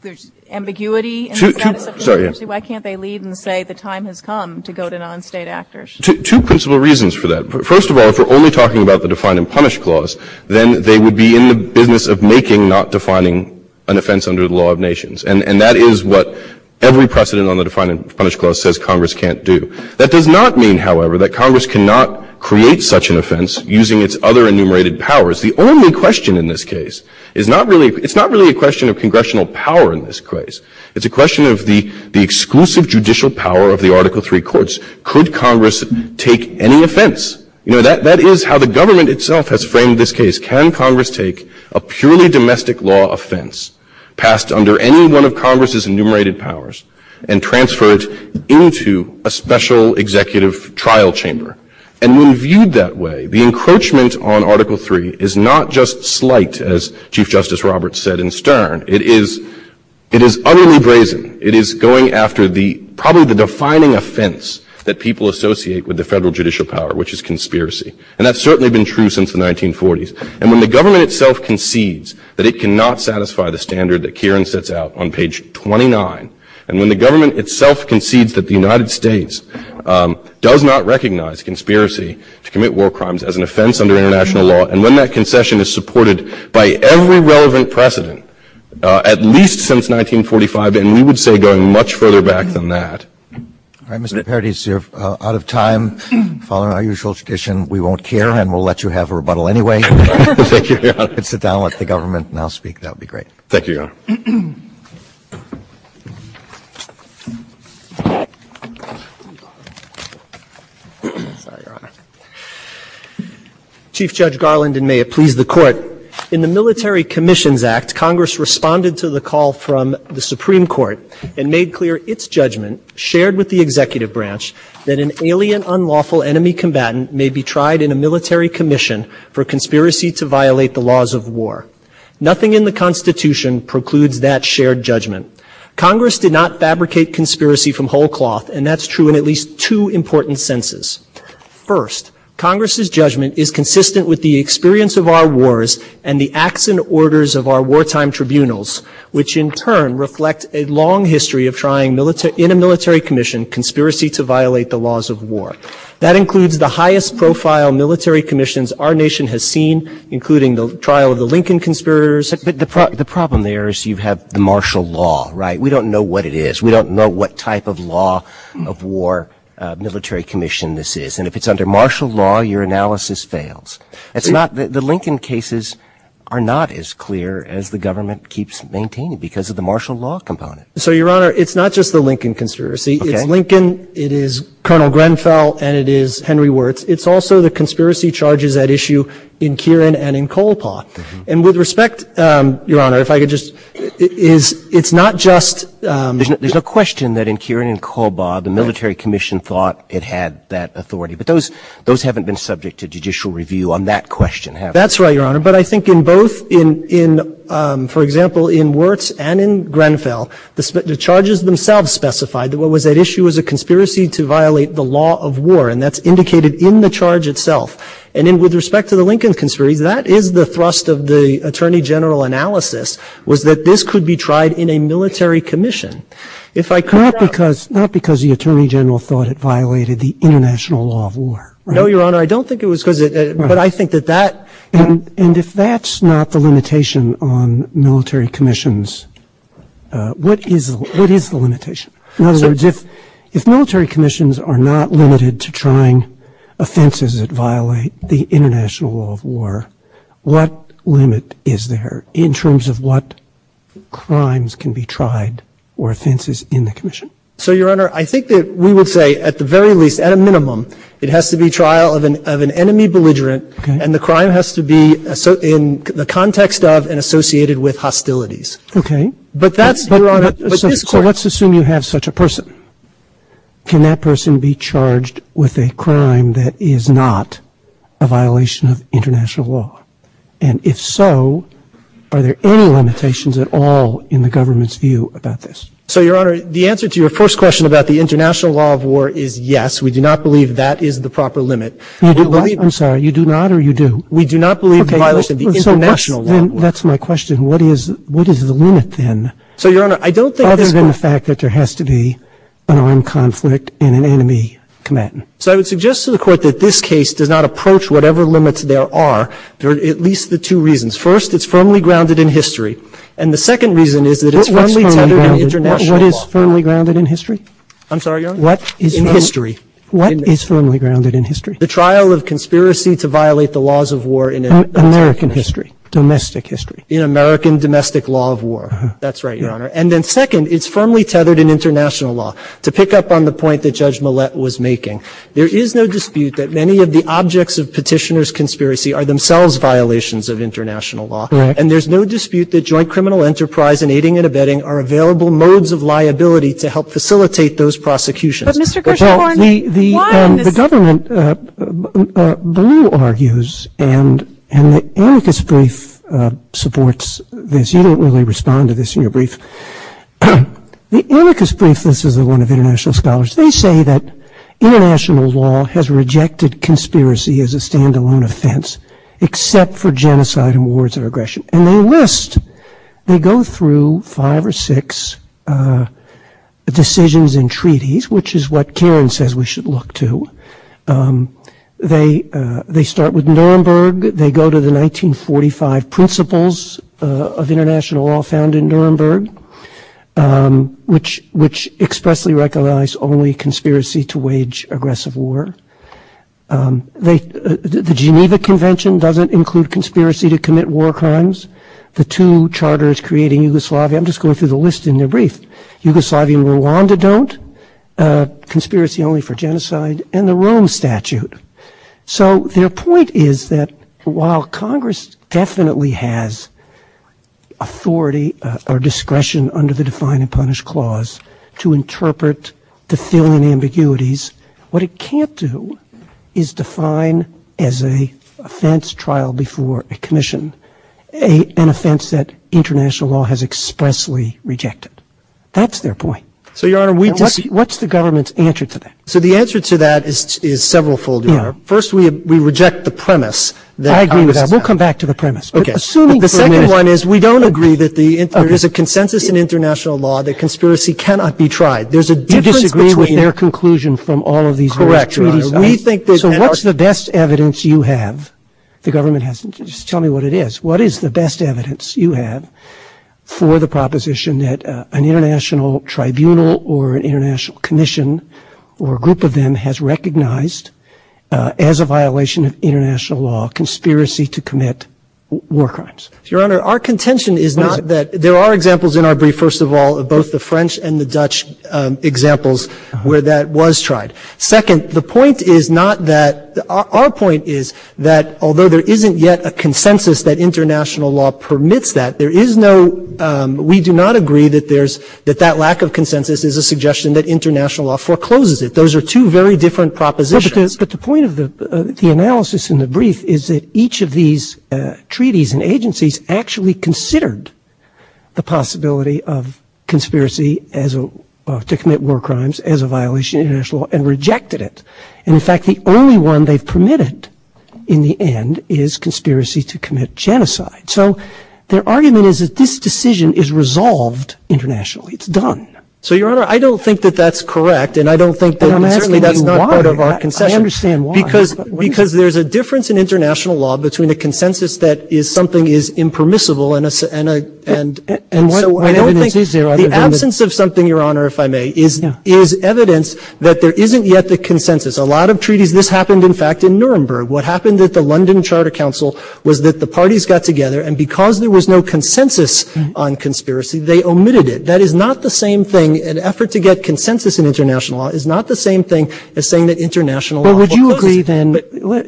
There's ambiguity... Sorry. Why can't they lead and say the time has come to go to non-state actors? Two principal reasons for that. First of all, if we're only talking about the Define and Punish Clause, then they would be in the business of making not defining an offense under the law of nations. And that is what every precedent on the Define and Punish Clause says Congress can't do. That does not mean, however, that Congress cannot create such an offense using its other enumerated powers. The only question in this case is not really... It's not really a question of congressional power in this case. It's a question of the exclusive judicial power of the Article III courts. Could Congress take any offense? You know, that is how the government itself has framed this case. Can Congress take a purely domestic law offense passed under any one of Congress's enumerated powers and transfer it into a special executive trial chamber? And when viewed that way, the encroachment on Article III is not just slight, as Chief Justice Roberts said in Stern. It is utterly brazen. It is going after the... Probably the defining offense that people associate with the federal judicial power, which is conspiracy. And that's certainly been true since the 1940s. And when the government itself concedes that it cannot satisfy the standard that Kieran sets out on page 29, and when the government itself concedes that the United States does not recognize conspiracy to commit war crimes as an offense under international law, and then that concession is supported by every relevant precedent, at least since 1945, then we would say going much further back than that. All right, Mr. Paradis, you're out of time. Following our usual tradition, we won't care, and we'll let you have a rebuttal anyway. Thank you, Your Honor. Sit down with the government and I'll speak. That would be great. Thank you, Your Honor. Chief Judge Garland, and may it please the Court. In the Military Commissions Act, Congress responded to the call from the Supreme Court and made clear its judgment, shared with the executive branch, that an alien, unlawful enemy combatant may be tried in a military commission for conspiracy to violate the laws of war. Nothing in the Constitution precludes that shared judgment. Congress did not fabricate conspiracy from whole cloth, and that's true in at least two important senses. First, Congress's judgment is consistent with the experience of our wars and the acts and orders of our wartime tribunals, which in turn reflect a long history of trying in a military commission conspiracy to violate the laws of war. That includes the highest profile military commissions our nation has seen, including the trial of the Lincoln conspirators. But the problem there is you have the martial law, right? We don't know what it is. We don't know what type of law of war military commission this is. And if it's under martial law, your analysis fails. It's not that the Lincoln cases are not as clear as the government keeps maintaining because of the martial law component. So, Your Honor, it's not just the Lincoln conspiracy. Lincoln, it is Colonel Grenfell and it is Henry Wirtz. It's also the conspiracy charges at issue in Kieran and in Colpaw. And with respect, Your Honor, if I could just... It's not just... There's a question that in Kieran and Colpaw, the military commission thought it had that authority, but those haven't been subject to judicial review on that question. That's right, Your Honor. But I think in both, for example, in Wirtz and in Grenfell, the charges themselves specified that what was at issue was a conspiracy to violate the law of war. And that's indicated in the charge itself. And then with respect to the Lincoln conspiracy, that is the thrust of the attorney general analysis was that this could be tried in a military commission. If I could... Not because the attorney general thought it violated the international law of war. No, Your Honor, I don't think it was because... But I think that that... And if that's not the limitation on military commissions, what is the limitation? In other words, if military commissions are not limited to trying offenses that violate the international law of war, what limit is there in terms of what crimes can be tried or offenses in the commission? So, Your Honor, I think that we would say at the very least, at a minimum, it has to be trial of an enemy belligerent, and the crime has to be in the context of and associated with hostilities. Okay. But that's... So let's assume you have such a person. Can that person be charged with a crime that is not a violation of international law? And if so, are there any limitations at all in the government's view about this? So, Your Honor, the answer to your first question about the international law of war is yes, we do not believe that is the proper limit. I'm sorry, you do not or you do? We do not believe it violates the international law. That's my question. What is the limit then? So, Your Honor, I don't think... Other than the fact that there has to be an armed conflict and an enemy command. So I would suggest to the court that this case does not approach whatever limits there are, there are at least the two reasons. First, it's firmly grounded in history. And the second reason is that... What is firmly grounded in history? I'm sorry, Your Honor? What is firmly grounded in history? The trial of conspiracy to violate the laws of war in... American history, domestic history. In American domestic law of war. That's right, Your Honor. And then second, it's firmly tethered in international law. To pick up on the point that Judge Millett was making, there is no dispute that many of the objects of petitioner's conspiracy are themselves violations of international law. And there's no dispute that joint criminal enterprise and aiding and abetting are available modes of liability to help facilitate those prosecutions. But Mr. Kershaw, I mean, why... The government, Blue, argues and Annika's brief supports this. You don't really respond to this in your brief. The Annika's brief, this is the one of international scholars. They say that international law has rejected conspiracy as a stand-alone offense, except for genocide and wars or aggression. And they list... They go through five or six decisions and treaties, which is what Karen says we should look to. They start with Nuremberg. They go to the 1945 principles of international law found in Nuremberg, which expressly recognize only conspiracy to wage aggressive war. The Geneva Convention doesn't include conspiracy to commit war crimes. The two charters creating Yugoslavia... I'm just going through the list in their brief. Yugoslavia and Rwanda don't. Conspiracy only for genocide. And the Rome Statute. So their point is that while Congress definitely has authority or discretion under the Define and Punish Clause to interpret the feeling of ambiguities, what it can't do is define as an offense trial before a commission, an offense that international law has expressly rejected. That's their point. So, Your Honor, we... What's the government's answer to that? The answer to that is several fold. First, we reject the premise. I agree with that. We'll come back to the premise. The second one is we don't agree that there is a consensus in international law that conspiracy cannot be tried. There's a difference between... You disagree with their conclusion from all of these treaties. We think that... So what's the best evidence you have? The government has... Tell me what it is. What is the best evidence you have for the proposition that an international tribunal or an international commission or a group of them has recognized as a violation of international law conspiracy to commit war crimes? Your Honor, our contention is not that... There are examples in our brief, first of all, of both the French and the Dutch examples where that was tried. Second, the point is not that... Our point is that although there isn't yet a consensus that international law permits that, there is no... That lack of consensus is a suggestion that international law forecloses it. Those are two very different propositions. But the point of the analysis in the brief is that each of these treaties and agencies actually considered the possibility of conspiracy to commit war crimes as a violation of international law and rejected it. And in fact, the only one they permitted in the end is conspiracy to commit genocide. So, their argument is that this decision is resolved internationally. It's done. So, Your Honor, I don't think that that's correct. And I don't think that... I understand why. Because there's a difference in international law between a consensus that is something is impermissible and... The absence of something, Your Honor, if I may, is evidence that there isn't yet the consensus. A lot of treaties... This happened, in fact, in Nuremberg. What happened at the London Charter Council was that the parties got together. And because there was no consensus on conspiracy, they omitted it. That is not the same thing. An effort to get consensus in international law is not the same thing as saying that international law forecloses it. But would you agree,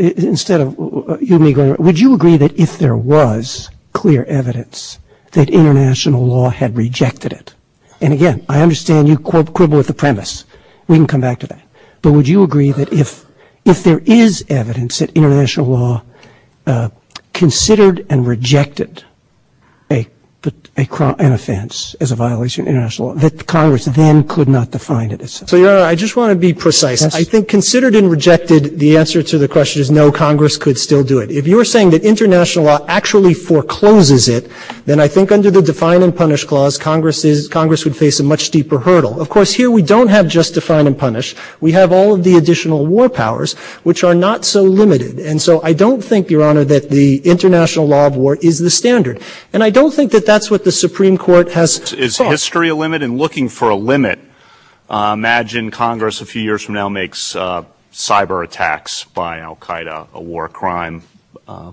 then, instead of... Would you agree that if there was clear evidence that international law had rejected it... And again, I understand you quibble with the premise. We can come back to that. But would you agree that if there is evidence that international law considered and rejected an offense as a violation of international law, that Congress then could not define it? So, Your Honor, I just want to be precise. I think considered and rejected, the answer to the question is no, Congress could still do it. If you're saying that international law actually forecloses it, then I think under the define and punish clause, Congress would face a much deeper hurdle. Of course, here we don't have just define and punish. We have all of the additional war powers, which are not so limited. And so I don't think, Your Honor, that the international law of war is the standard. And I don't think that that's what the Supreme Court has thought. Is history a limit? And looking for a limit, imagine Congress a few years from now makes cyber attacks by al Qaeda, a war crime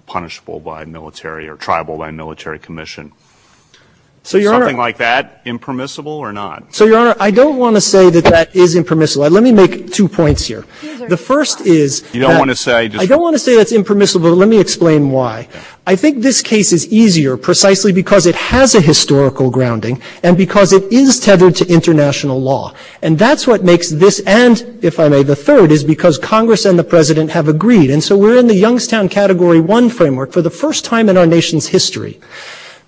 punishable by military or tribal by military commission. Is something like that impermissible or not? So, Your Honor, I don't want to say that that is impermissible. Let me make two points here. The first is you don't want to say I don't want to say it's impermissible. Let me explain why. I think this case is easier precisely because it has a historical grounding and because it is tethered to international law. And that's what makes this. And if I may, the third is because Congress and the president have agreed. And so we're in the Youngstown Category one framework for the first time in our nation's history.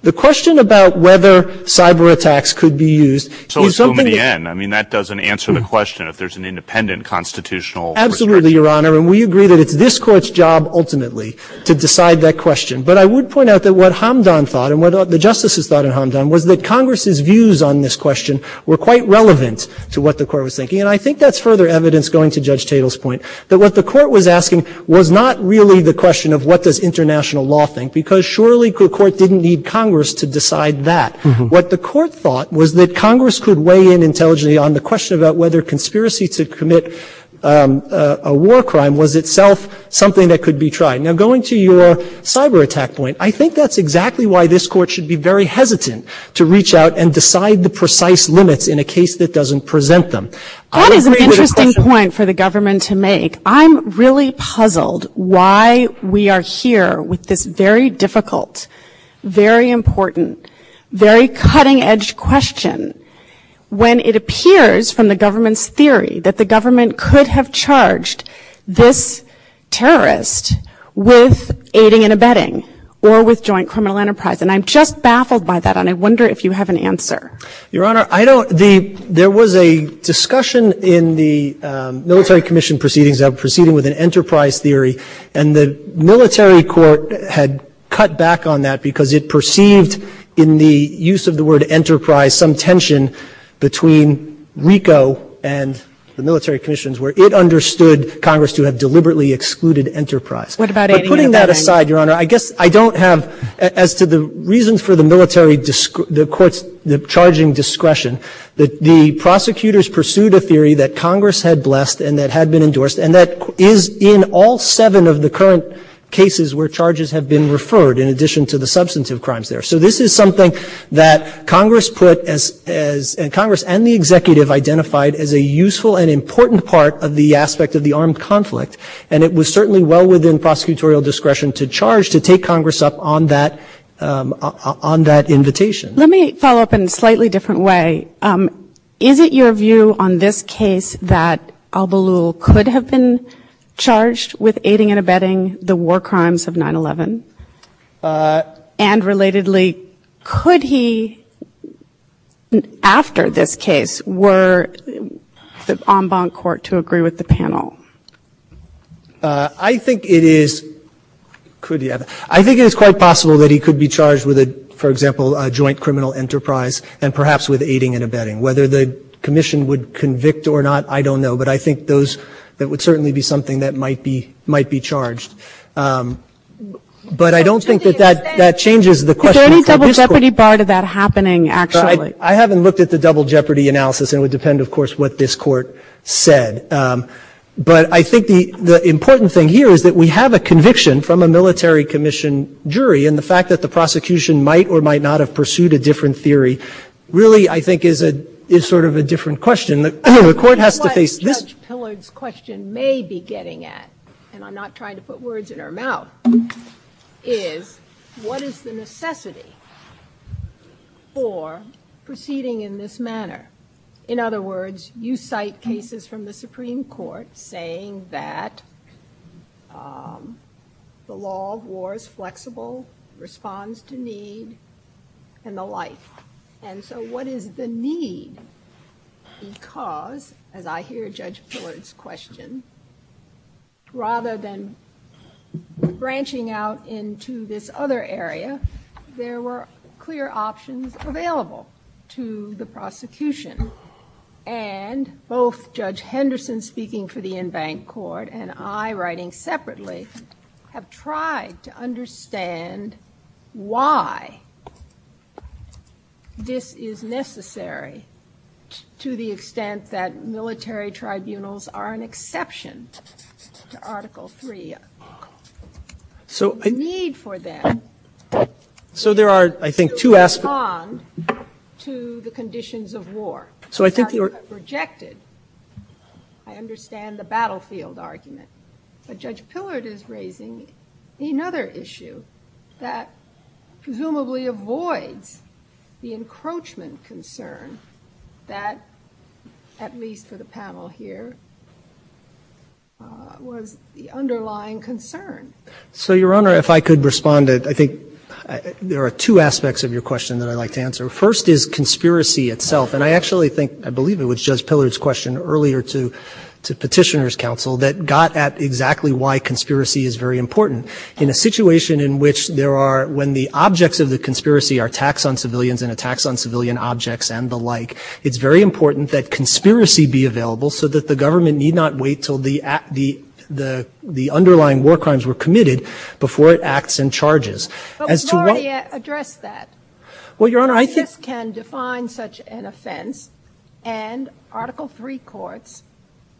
The question about whether cyber attacks could be used. So in the end, I mean, that doesn't answer the question if there's an independent constitutional. Absolutely, Your Honor. And we agree that it's this court's job ultimately to decide that question. But I would point out that what Hamdan thought and what the justices thought of Hamdan was that Congress's views on this question were quite relevant to what the court was thinking. And I think that's further evidence going to Judge Tatel's point that what the court was asking was not really the question of what does international law think? Because surely the court didn't need Congress to decide that. What the court thought was that Congress could weigh in intelligently on the question about whether conspiracy to commit a war crime was itself something that could be tried. Now, going to your cyber attack point, I think that's exactly why this court should be very hesitant to reach out and decide the precise limits in a case that doesn't present them. That's an interesting point for the government to make. I'm really puzzled why we are here with this very difficult, very important, very cutting edge question when it appears from the government's theory that the government could have charged this terrorist with aiding and abetting or with joint criminal enterprise. And I'm just baffled by that. And I wonder if you have an answer. Your Honor, there was a discussion in the military commission proceedings of proceeding with an enterprise theory. And the military court had cut back on that because it perceived in the use of the word enterprise some tension between RICO and the military commissions where it understood Congress to have deliberately excluded enterprise. But putting that aside, Your Honor, I guess I don't have, as to the reason for the military the court's charging discretion, that the prosecutors pursued a theory that Congress had blessed and that had been endorsed. And that is in all seven of the current cases where charges have been referred in addition to the substantive crimes there. So this is something that Congress put as, and Congress and the executive identified as a useful and important part of the aspect of the armed conflict. And it was certainly well within prosecutorial discretion to charge to take Congress up on that invitation. Let me follow up in a slightly different way. Is it your view on this case that Al Balul could have been charged with aiding and abetting the war crimes of 9-11? And relatedly, could he, after this case, were on bond court to agree with the panel? I think it is. Could he? I think it is quite possible that he could be charged with, for example, a joint criminal enterprise and perhaps with aiding and abetting. Whether the commission would convict or not, I don't know. But I think that would certainly be something that might be charged. But I don't think that that changes the question. Is there any double jeopardy part of that happening, actually? I haven't looked at the double jeopardy analysis. It would depend, of course, what this court said. But I think the important thing here is that we have a conviction from a military commission jury. And the fact that the prosecution might or might not have pursued a different theory really, I think, is sort of a different question. I mean, the court has to face just— What Judge Pillard's question may be getting at, and I'm not trying to put words in her mouth, is what is the necessity for proceeding in this manner? In other words, you cite cases from the Supreme Court saying that the law of war is flexible, responds to need, and the like. And so what is the need? Because, as I hear Judge Pillard's question, rather than branching out into this other area, there were clear options available to the prosecution. And both Judge Henderson speaking for the in-bank court and I writing separately have tried to understand why this is necessary to the extent that military tribunals are an exception to Article III. So there are, I think, two aspects— —to respond to the conditions of war. So I think you're— —rejected. I understand the battlefield argument. But Judge Pillard is raising another issue that presumably avoids the encroachment concern that, at least for the panel here, was the underlying concern. So, Your Honor, if I could respond, I think there are two aspects of your question that I'd like to answer. First is conspiracy itself. And I actually think—I believe it was Judge Pillard's question earlier to Petitioner's counsel that got at exactly why conspiracy is very important. In a situation in which there are—when the objects of the conspiracy are attacks on civilians and attacks on civilian objects and the like, it's very important that conspiracy be available so that the government need not wait till the underlying war crimes were committed before it acts and charges. As to what— —address that. —Well, Your Honor, I think— —can define such an offense and Article III courts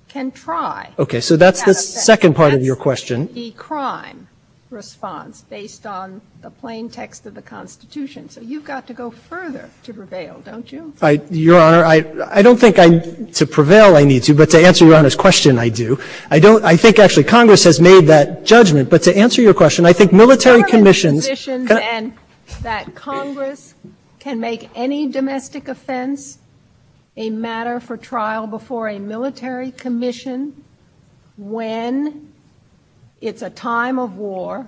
can try— —OK. So that's the second part of your question. —the crime response based on the plain text of the Constitution. So you've got to go further to prevail, don't you? —Your Honor, I don't think I—to prevail, I need to. But to answer Your Honor's question, I do. I don't—I think, actually, Congress has made that judgment. But to answer your question, I think military commissions— —conditions and that Congress can make any domestic offense a matter for trial before a military commission when it's a time of war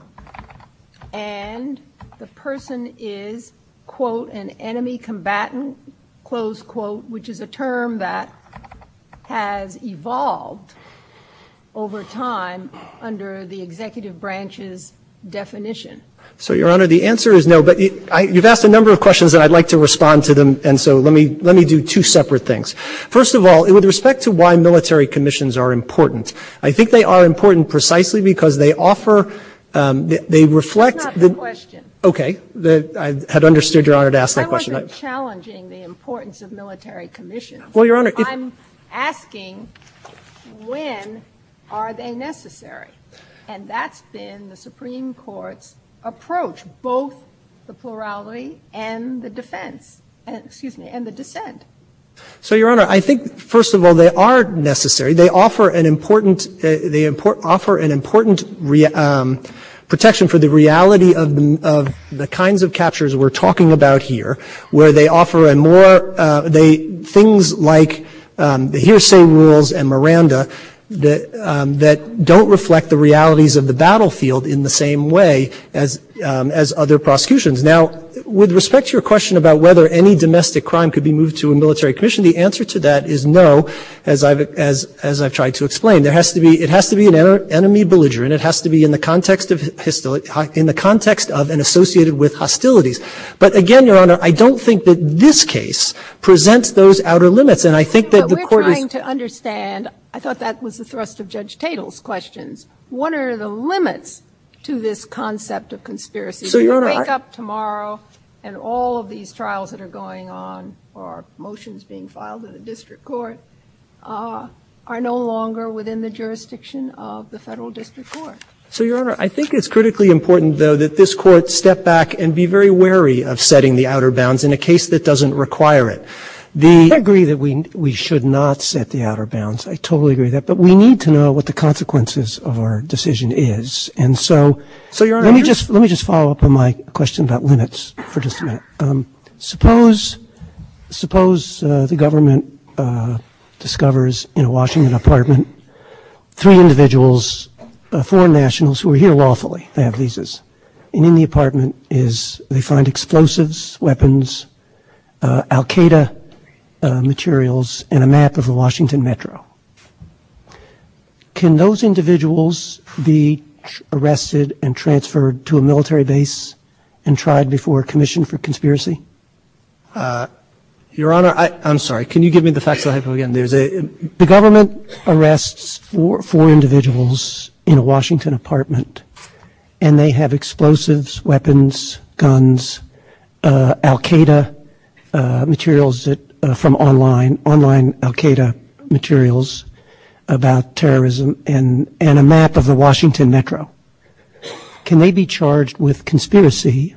and the person is, quote, an enemy combatant, close quote, which is a term that has evolved over time under the executive branch's definition. —So, Your Honor, the answer is no. But I—you've asked a number of questions that I'd like to respond to them. And so let me—let me do two separate things. First of all, with respect to why military commissions are important, I think they are important precisely because they offer—they reflect— —That's not the question. —OK. I had understood Your Honor to ask that question. —I wasn't challenging the importance of military commissions. —Well, Your Honor— —I'm asking, when are they necessary? And that's been the Supreme Court's approach, both the plurality and the defense—excuse me, and the dissent. —So, Your Honor, I think, first of all, they are necessary. They offer an important—they offer an important protection for the reality of the kinds of captures we're talking about here, where they offer a more—they—things like the hearsay rules and Miranda that don't reflect the realities of the battlefield in the same way as other prosecutions. Now, with respect to your question about whether any domestic crime could be moved to a military commission, the answer to that is no, as I've—as—as I've tried to explain. There has to be—it has to be an enemy belligerent. It has to be in the context of—in the context of and associated with hostilities. But again, Your Honor, I don't think that this case presents those outer limits, and I think that the court— —We're trying to understand—I thought that was the thrust of Judge Tatel's questions. What are the limits to this concept of conspiracy? —So, Your Honor— —Tomorrow, and all of these trials that are going on or motions being filed in the district court are no longer within the jurisdiction of the federal district court. —So, Your Honor, I think it's critically important, though, that this court step back and be very wary of setting the outer bounds in a case that doesn't require it. The— —I agree that we—we should not set the outer bounds. I totally agree with that. But we need to know what the consequences of our decision is. And so— —So, Your Honor— —Let me just follow up on my question about limits for just a minute. Suppose—suppose the government discovers in a Washington apartment three individuals, four nationals who are here lawfully, families, and in the apartment is—they find explosives, weapons, al-Qaeda materials, and a map of a Washington metro. —Can those individuals be arrested and transferred to a military base and tried before commission for conspiracy? —Your Honor, I—I'm sorry. Can you give me the fact that I have to go again? There's a— —The government arrests four individuals in a Washington apartment, and they have explosives, weapons, guns, al-Qaeda materials that—from online—online al-Qaeda materials about terrorism and—and a map of a Washington metro. Can they be charged with conspiracy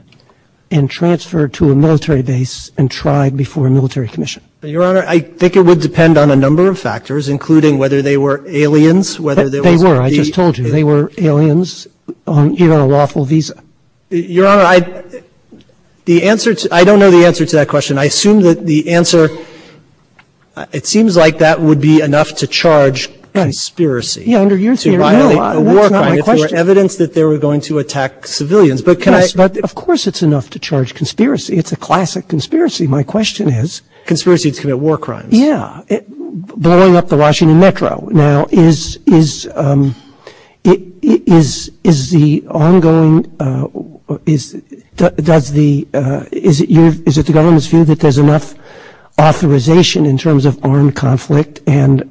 and transferred to a military base and tried before a military commission? —Your Honor, I think it would depend on a number of factors, including whether they were aliens, whether they were— —They were. I just told you. They were aliens on either a lawful visa. —Your Honor, I—the answer to—I don't know the answer to that question. I assume that the answer—it seems like that would be enough to charge conspiracy. —Yeah, under you, too. —It's evidence that they were going to attack civilians, but can I— —Of course, it's enough to charge conspiracy. It's a classic conspiracy. My question is— —Conspiracy to commit war crimes. —Yeah, blowing up the Washington metro. Now, is—is—is—is the ongoing—is—does the—is it your—is it the government's view that there's enough authorization in terms of armed conflict and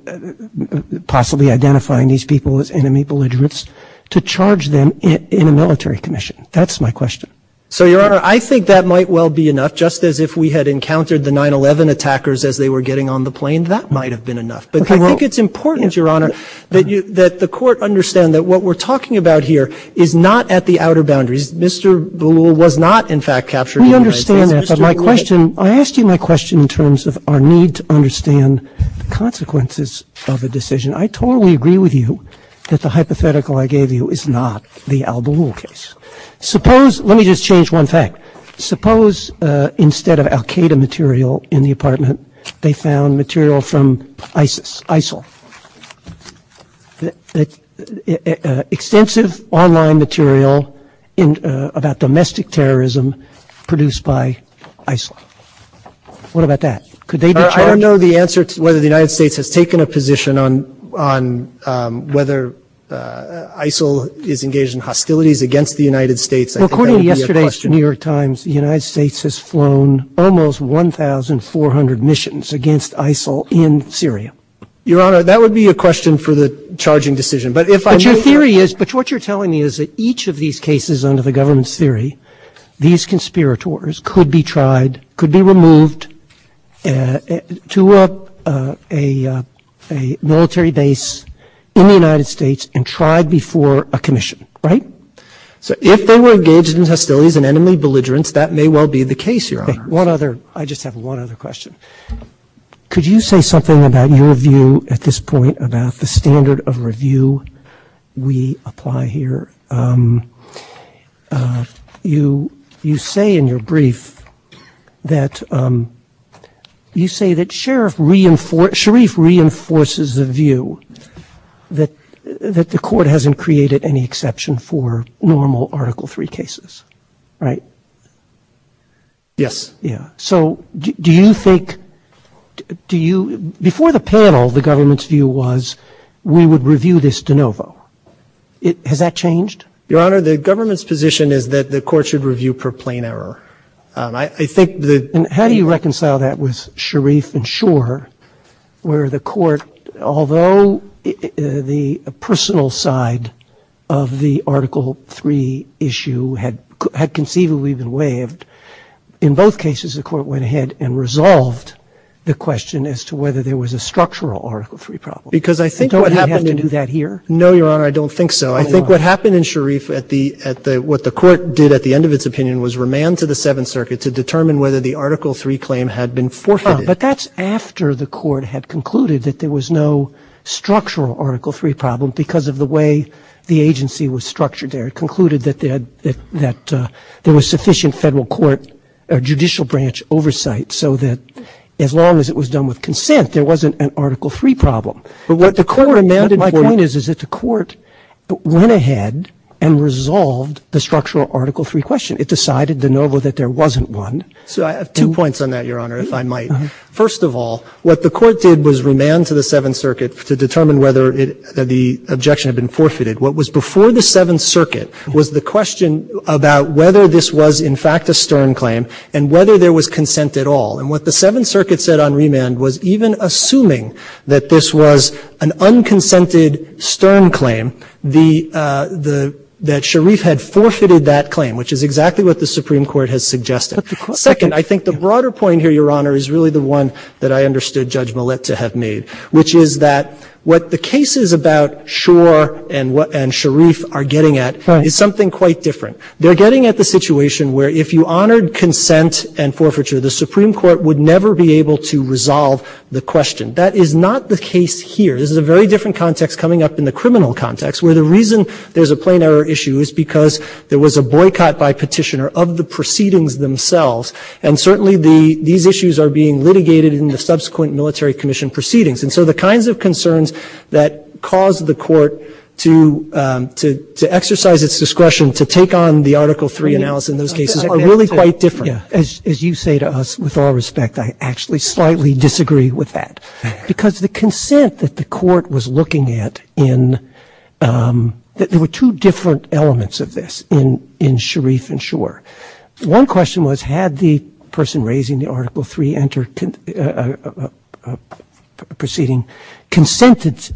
possibly identifying these people as enemy belligerents to charge them in a military commission? That's my question. —So, Your Honor, I think that might well be enough, just as if we had encountered the 9-11 attackers as they were getting on the plane, that might have been enough. But I think it's important, Your Honor, that you—that the court understand that what we're talking about here is not at the outer boundaries. Mr. Ballou was not, in fact, captured— —We understand that, but my question—I asked you my question in terms of our need to understand the consequences of a decision. I totally agree with you that the hypothetical I gave you is not the Al Ballou case. Suppose—let me just change one thing. Suppose instead of al-Qaeda material in the apartment, they found material from ISIS, ISIL—extensive online material in—about domestic terrorism produced by ISIL. What about that? Could they— —I don't know the answer to whether the United States has taken a position on—on whether ISIL is engaged in hostilities against the United States— —According to yesterday's New York Times, the United States has flown almost 1,400 missions against ISIL in Syria. Your Honor, that would be a question for the charging decision, but if I— —But your theory is—but what you're telling me is that each of these cases under the government's theory, these conspirators could be tried, could be removed to a—a military base in the United States and tried before a commission, right? So if they were engaged in hostilities and enemy belligerence, that may well be the case, Your Honor. One other—I just have one other question. Could you say something about your view at this point about the standard of review we apply here? You—you say in your brief that—you say that Sheriff reinforce—Sharif reinforces the view that—that the court hasn't created any exception for normal Article III cases, right? Yes. Yeah. So do—do you think—do you—before the panel, the government's view was we would review this de novo. Has that changed? Your Honor, the government's position is that the court should review per plane error. I—I think the— How do you reconcile that with Sharif and Shor where the court—although the personal side of the Article III issue had—had conceivably been waived, in both cases, the court went ahead and resolved the question as to whether there was a structural Article III problem. Because I think— Don't you have to do that here? No, Your Honor, I don't think so. I think what happened in Sharif at the—at the—what the court did at the end of its circuit to determine whether the Article III claim had been forfeited— Oh, but that's after the court had concluded that there was no structural Article III problem because of the way the agency was structured there. It concluded that they had—that—that there was sufficient federal court or judicial branch oversight so that as long as it was done with consent, there wasn't an Article III problem. But what the court— But my point is that the court went ahead and resolved the structural Article III question. It decided, de novo, that there wasn't one. So I have two points on that, Your Honor, if I might. First of all, what the court did was remand to the Seventh Circuit to determine whether it—that the objection had been forfeited. What was before the Seventh Circuit was the question about whether this was, in fact, a stern claim and whether there was consent at all. And what the Seventh Circuit said on remand was even assuming that this was an unconsented, stern claim, the—that Sharif had forfeited that claim, which is exactly what the Supreme Court has suggested. But the court— Second, I think the broader point here, Your Honor, is really the one that I understood Judge Millett to have made, which is that what the cases about Shor and Sharif are getting at is something quite different. They're getting at the situation where if you honored consent and forfeiture, the Supreme Court would never be able to resolve the question. That is not the case here. This is a very different context coming up in the criminal context, where the reason there's a plain error issue is because there was a boycott by petitioner of the proceedings themselves. And certainly the—these issues are being litigated in the subsequent military commission proceedings. And so the kinds of concerns that cause the court to—to exercise its discretion to take on the Article III analysis in those cases are really quite different. As you say to us, with all respect, I actually slightly disagree with that. Because the consent that the court was looking at in—there were two different elements of this in Sharif and Shor. One question was, had the person raising the Article III proceeding consented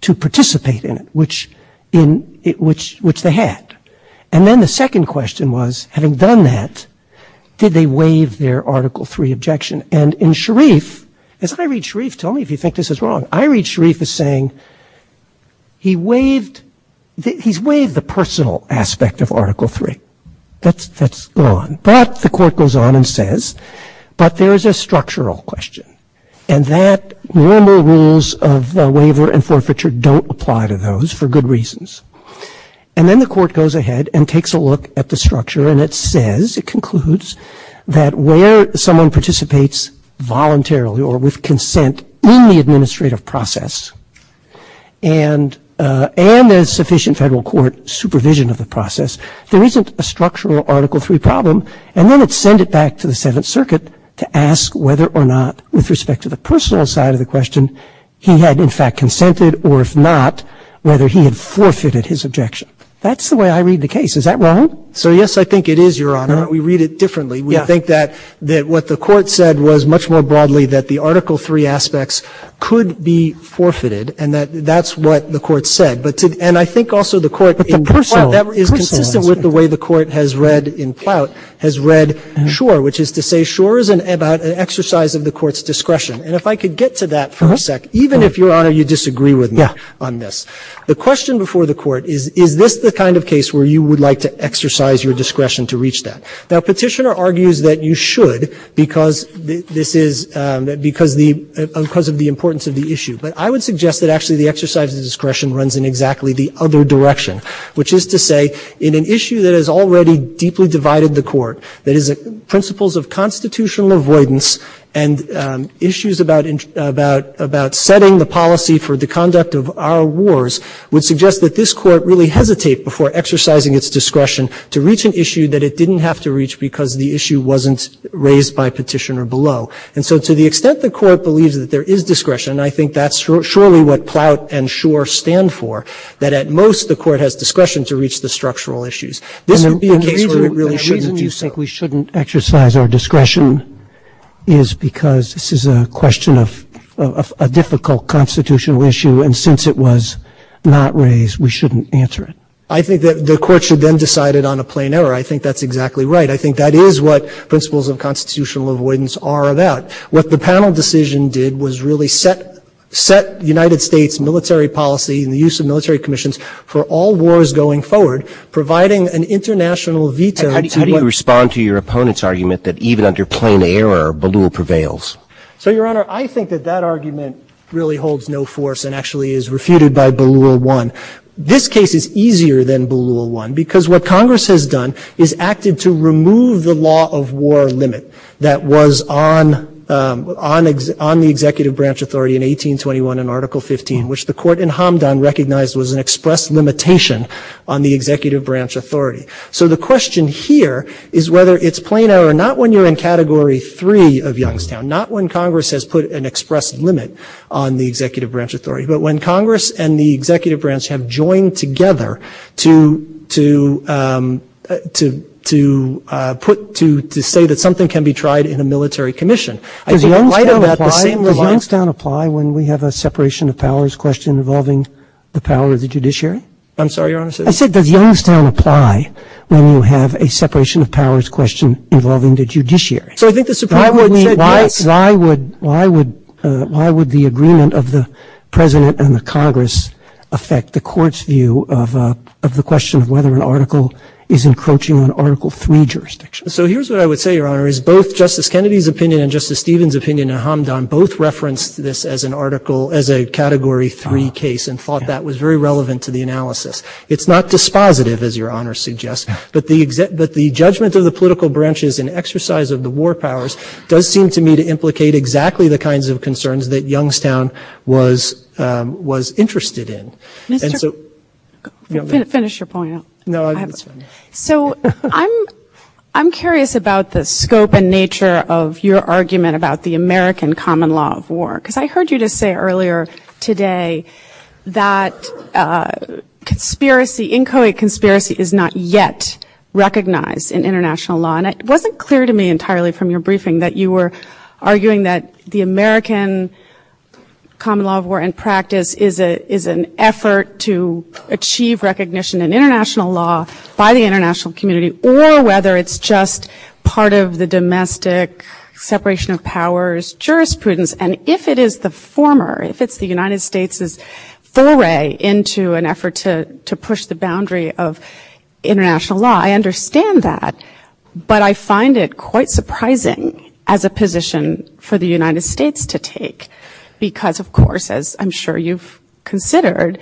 to participate in it, which they had? And then the second question was, having done that, did they waive their Article III objection? And in Sharif, as I read Sharif—tell me if you think this is wrong—I read Sharif as saying, he waived—he's waived the personal aspect of Article III. That's gone. Perhaps the court goes on and says, but there's a structural question. And that normal rules of waiver and forfeiture don't apply to those for good reasons. And then the court goes ahead and takes a look at the structure and it says, it concludes, that where someone participates voluntarily or with consent in the administrative process and there's sufficient federal court supervision of the process, there isn't a structural Article III problem, and then it's sent it back to the Seventh Circuit to ask whether or not, with respect to the personal side of the question, he had in fact consented or if not, whether he had forfeited his objection. That's the way I read the case. Is that wrong? So, yes, I think it is, Your Honor. We read it differently. We think that what the court said was, much more broadly, that the Article III aspects could be forfeited and that that's what the court said. But—and I think also the court— But the personal— —is consistent with the way the court has read in Ploutt, has read Schor, which is to say Schor is an exercise of the court's discretion. And if I could get to that for a sec, even if, Your Honor, you disagree with me on this. The question before the court is, is this the kind of case where you would like to exercise your discretion to reach that? Now, Petitioner argues that you should because this is—because of the importance of the issue. But I would suggest that actually the exercise of the discretion runs in exactly the other direction, which is to say, in an issue that has already deeply divided the court, that is principles of constitutional avoidance and issues about setting the policy for the would suggest that this court really hesitate before exercising its discretion to reach an issue that it didn't have to reach because the issue wasn't raised by Petitioner below. And so to the extent the court believes that there is discretion, and I think that's surely what Ploutt and Schor stand for, that at most the court has discretion to reach the structural issues. This would be a case where it really shouldn't be so. The reason you think we shouldn't exercise our discretion is because this is a question of a difficult constitutional issue, and since it was not raised, we shouldn't answer it. I think that the court should then decide it on a plain error. I think that's exactly right. I think that is what principles of constitutional avoidance are about. What the panel decision did was really set the United States military policy and the use of military commissions for all wars going forward, providing an international veto. How do you respond to your opponent's argument that even under plain error, Ballou prevails? So, Your Honor, I think that that argument really holds no force and actually is refuted by Ballou 1. This case is easier than Ballou 1 because what Congress has done is acted to remove the law of war limit that was on the executive branch authority in 1821 in Article 15, which the court in Hamdan recognized was an express limitation on the executive branch authority. So the question here is whether it's plain error, not when you're in Category 3 of Youngstown, not when Congress has put an express limit on the executive branch authority, but when Congress and the executive branch have joined together to state that something can be tried in a military commission. Does Youngstown apply when we have a separation of powers question involving the power of the judiciary? I'm sorry, Your Honor. I said does Youngstown apply when you have a separation of powers question involving the judiciary? So I think the question is why would the agreement of the President and the Congress affect the court's view of the question of whether an article is encroaching on Article 3 jurisdiction? So here's what I would say, Your Honor, is both Justice Kennedy's opinion and Justice Stevens' opinion in Hamdan both referenced this as a Category 3 case and thought that was very relevant to the analysis. It's not dispositive, as Your Honor suggests, but the judgment of the political branches and exercise of the war powers does seem to me to implicate exactly the kinds of concerns that Youngstown was interested in. So I'm curious about the scope and nature of your argument about the American common law of war because I heard you just say earlier today that inconspiracy is not yet recognized in international law. And it wasn't clear to me entirely from your briefing that you were arguing that the American common law of war in practice is an effort to achieve recognition in international law by the international community or whether it's just part of the domestic separation of powers jurisprudence. And if it is the former, if it's the United States' foray into an effort to push the boundary of international law, I understand that, but I find it quite surprising as a position for the United States to take because, of course, as I'm sure you've considered,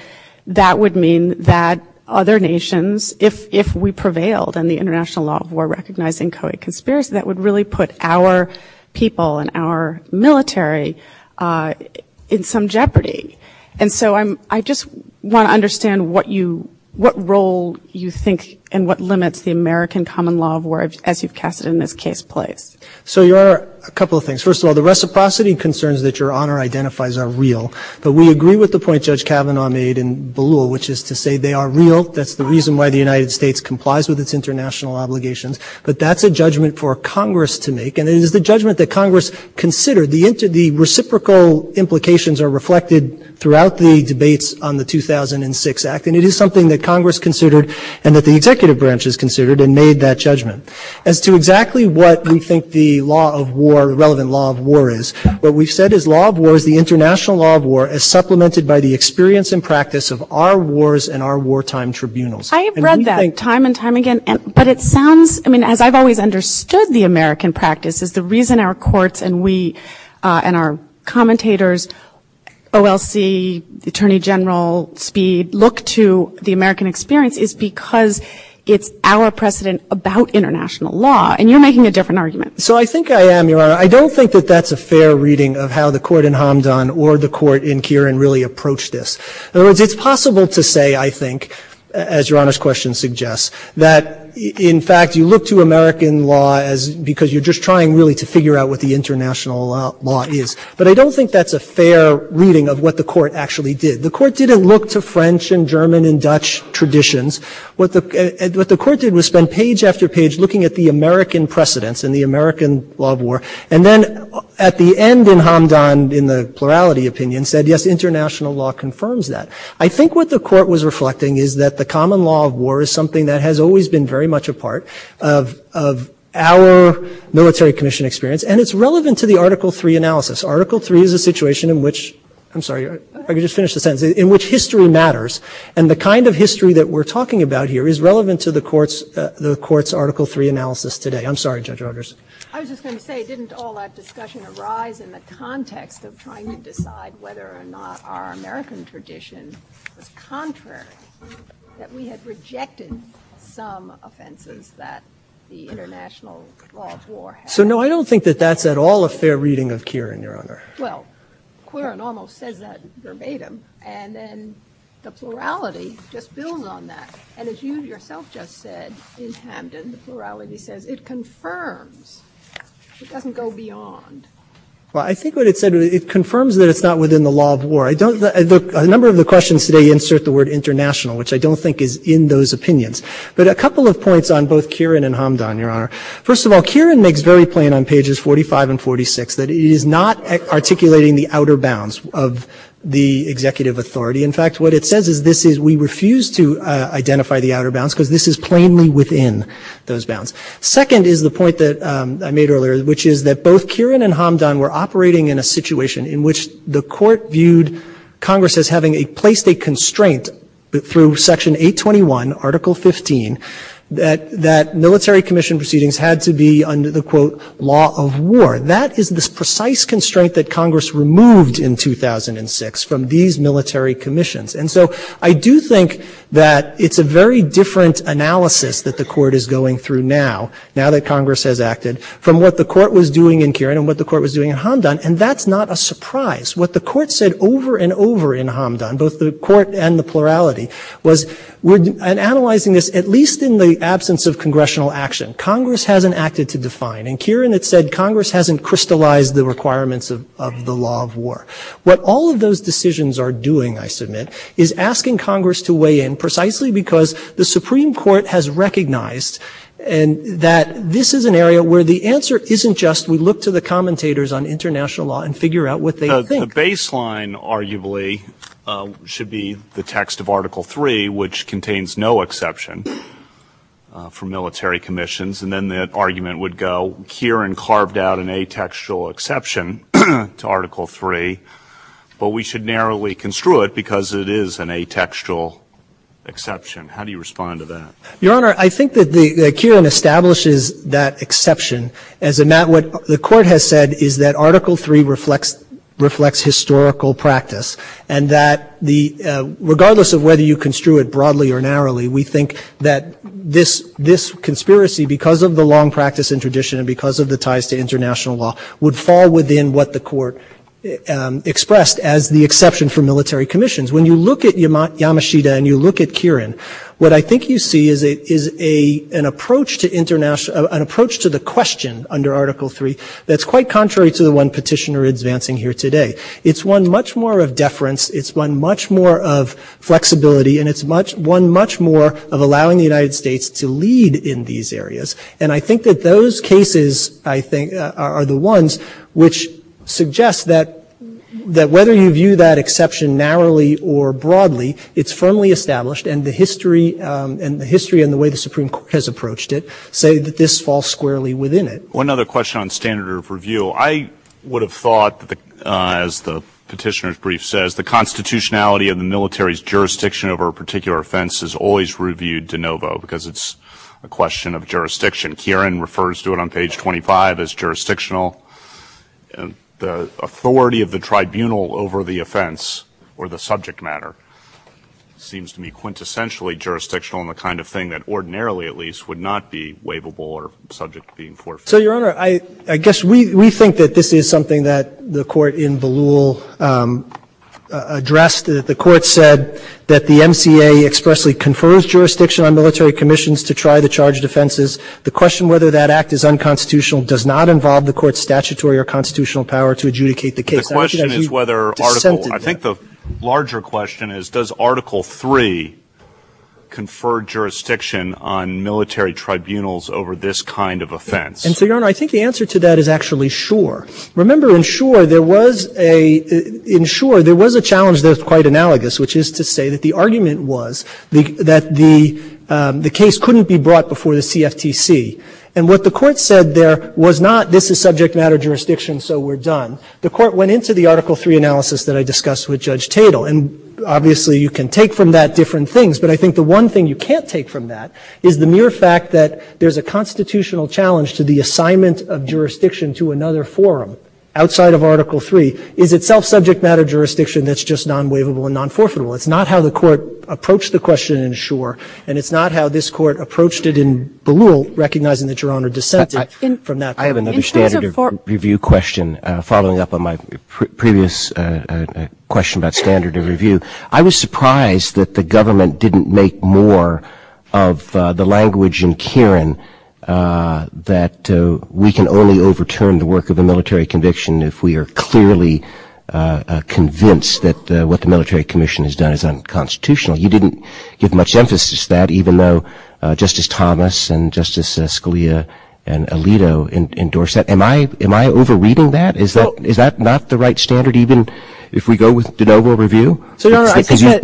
that would mean that other nations, if we prevailed in the international law of war recognizing co-conspiracy, that would really put our people and our military in some jeopardy. And so I just want to understand what role you think and what limits the American common law of war as you've cast in this case play. So there are a couple of things. First of all, the reciprocity concerns that your honor identifies are real, but we agree with the point Judge Kavanaugh made in Ballou, which is to say they are real. That's the reason why the United States complies with its international obligations, but that's a judgment for Congress to make and it is the judgment that Congress considered. The reciprocal implications are reflected throughout the debates on the 2006 Act and it is something that Congress considered and that the executive branch has considered and made that judgment. As to exactly what we think the law of war, the relevant law of war is, what we've said is law of war is the international law of war as supplemented by the experience and practice of our wars and our wartime tribunals. I have read that time and time again, but it sounds, I mean, as I've always understood the American practice is the reason our courts and we and our commentators, OLC, the Attorney General, Speed, look to the American experience is because it's our precedent about international law and you're making a different argument. So I think I am, your honor. I don't think that that's a fair reading of how the court in Hamdan or the court in Kirin really approached this. In other words, it's possible to say, I think, as your honor's question suggests, that in fact you look to American law because you're just trying really to figure out what the international law is. But I don't think that's a fair reading of what the court actually did. The court didn't look to French and German and Dutch traditions. What the court did was spend page after page looking at the American precedents and the American law of war and then at the end in Hamdan in the plurality opinion said, yes, international law confirms that. I think what the court was reflecting is that the common law of war is something that has always been very much a part of our military commission experience and it's relevant to the Article 3 analysis. Article 3 is a situation in which, I'm sorry, I can just finish the sentence, in which history matters and the kind of history that we're talking about here is relevant to the court's Article 3 analysis today. I'm sorry, Judge Rogers. I was just going to say, didn't all that discussion arise in the context of trying to decide whether or not our American tradition was contrary, that we had rejected some offenses that the international law of war had? So no, I don't think that that's at all a fair reading of Kieran, Your Honor. Well, Kieran almost said that verbatim and then the plurality just builds on that. And as you yourself just said, in Hamdan, the plurality says it confirms. It doesn't go beyond. Well, I think what it said, it confirms that it's not within the law of war. A number of the questions today insert the word international, which I don't think is in those opinions. But a couple of points on both Kieran and Hamdan, Your Honor. First of all, Kieran makes very plain on pages 45 and 46 that he is not articulating the outer bounds of the executive authority. In fact, what it says is we refuse to identify the outer bounds because this is plainly within those bounds. Second is the point that I made earlier, which is that both Kieran and Hamdan were operating in a situation in which the court viewed Congress as having placed a constraint through Section 821, Article 15, that military commission proceedings had to be under the, quote, law of war. That is this precise constraint that Congress removed in 2006 from these military commissions. So I do think that it's a very different analysis that the court is going through now, now that Congress has acted, from what the court was doing in Kieran and what the court was doing in Hamdan, and that's not a surprise. What the court said over and over in Hamdan, both the court and the plurality, was in analyzing this, at least in the absence of congressional action, Congress hasn't acted to define. Kieran had said Congress hasn't crystallized the requirements of the law of war. What all of those decisions are doing, I submit, is asking Congress to weigh in precisely because the Supreme Court has recognized that this is an area where the answer isn't just we look to the commentators on international law and figure out what they think. The baseline, arguably, should be the text of Article 3, which contains no exception for military commissions, and then the argument would go Kieran carved out an atextual exception to Article 3, but we should narrowly construe it because it is an atextual exception. How do you respond to that? Your Honor, I think that Kieran establishes that exception, as in that what the court has said is that Article 3 reflects historical practice, and that regardless of whether you construe it broadly or narrowly, we think that this conspiracy, because of the long the court expressed as the exception for military commissions. When you look at Yamashita and you look at Kieran, what I think you see is an approach to the question under Article 3 that's quite contrary to the one petitioner is advancing here today. It's one much more of deference. It's one much more of flexibility, and it's one much more of allowing the United States to lead in these areas. I think that those cases are the ones which suggest that whether you view that exception narrowly or broadly, it's firmly established, and the history and the way the Supreme Court has approached it say that this falls squarely within it. One other question on standard of review. I would have thought, as the petitioner's brief says, the constitutionality of the military's jurisdiction over a particular offense is always reviewed de novo because it's a question of jurisdiction. Kieran refers to it on page 25 as jurisdictional. The authority of the tribunal over the offense or the subject matter seems to be quintessentially jurisdictional in the kind of thing that ordinarily, at least, would not be waivable or subject to being forfeited. So, Your Honor, I guess we think that this is something that the court in Ballou addressed. The court said that the NCA expressly confers jurisdiction on military commissions to try to charge offenses. The question whether that act is unconstitutional does not involve the court's statutory or constitutional power to adjudicate the case. I think the larger question is, does Article III confer jurisdiction on military tribunals over this kind of offense? And so, Your Honor, I think the answer to that is actually sure. Remember, in sure, there was a challenge that was quite analogous, which is to say that the argument was that the case couldn't be brought before the CFTC. And what the court said there was not, this is subject matter jurisdiction, so we're done. The court went into the Article III analysis that I discussed with Judge Tatel. And obviously, you can take from that different things. But I think the one thing you can't take from that is the mere fact that there's a constitutional challenge to the assignment of jurisdiction to another forum outside of Article III is itself subject matter jurisdiction that's just non-waivable and non-forfeitable. It's not how the court approached the question in sure, and it's not how this court approached it in the rule, recognizing that Your Honor dissented from that. I have another standard of review question, following up on my previous question about standard of review. I was surprised that the government didn't make more of the language in Kieran that we can only overturn the work of a military conviction if we are clearly convinced that what the court has done is unconstitutional. You didn't give much emphasis to that even though Justice Thomas and Justice Scalia and Alito endorsed that. Am I over-reading that? Is that not the right standard even if we go with de novo review? You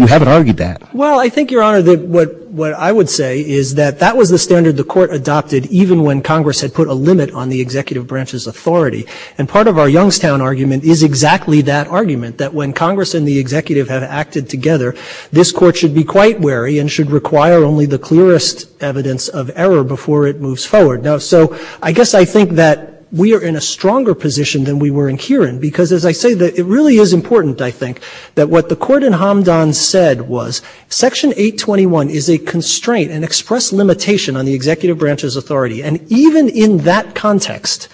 haven't argued that. Well, I think, Your Honor, what I would say is that that was the standard the court adopted even when Congress had put a limit on the executive branch's authority. And part of our Youngstown argument is exactly that argument, that when Congress and the legislature put a limit on the executive branch's authority, the court should be quite wary and should require only the clearest evidence of error before it moves forward. So I guess I think that we are in a stronger position than we were in Kieran because, as I say, it really is important, I think, that what the court in Hamdan said was Section 821 is a constraint, an express limitation on the executive branch's authority, and even in that context,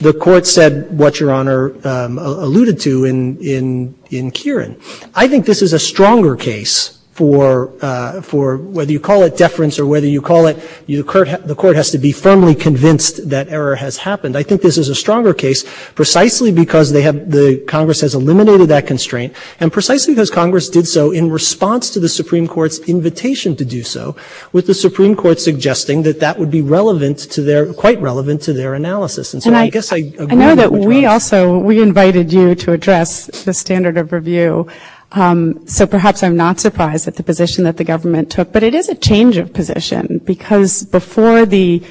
the court said what Your Honor alluded to in Kieran. I think this is a stronger case for whether you call it deference or whether you call it the court has to be firmly convinced that error has happened. I think this is a stronger case precisely because the Congress has eliminated that constraint and precisely because Congress did so in response to the Supreme Court's invitation to do so with the Supreme Court suggesting that that would be quite relevant to their analysis. I know that we also invited you to address the standard of review, so perhaps I'm not surprised at the position that the government took, but it is a change of position because before the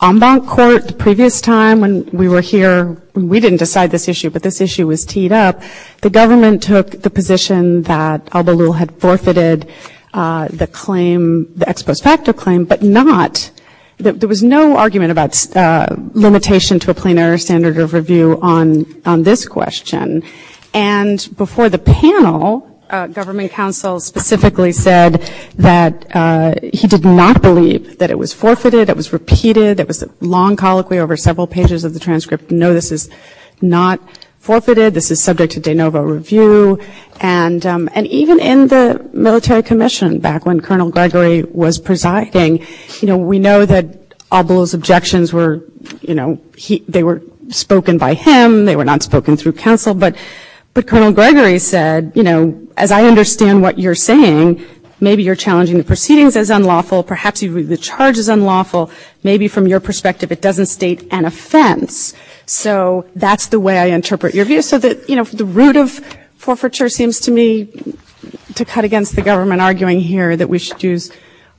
Ambon court, the previous time when we were here, we didn't decide this issue, but this issue was teed up. The government took the position that Al-Balul had forfeited the claim, the ex post facto claim, but not, there was no argument about limitation to a plenary standard of review on this question, and before the panel, government counsel specifically said that he did not believe that it was forfeited, it was repeated, it was a long colloquy over several pages of the transcript. No, this is not forfeited. This is subject to de novo review, and even in the military commission back when Colonel Gregory was presiding, we know that Al-Balul's objections were, they were spoken by him, they were not spoken through counsel, but Colonel Gregory said, as I understand what you're saying, maybe you're challenging the proceedings as unlawful, perhaps the charge is unlawful, maybe from your perspective it doesn't state an offense, so that's the way I interpret your view, so the root of forfeiture seems to me to cut against the government arguing here that we should use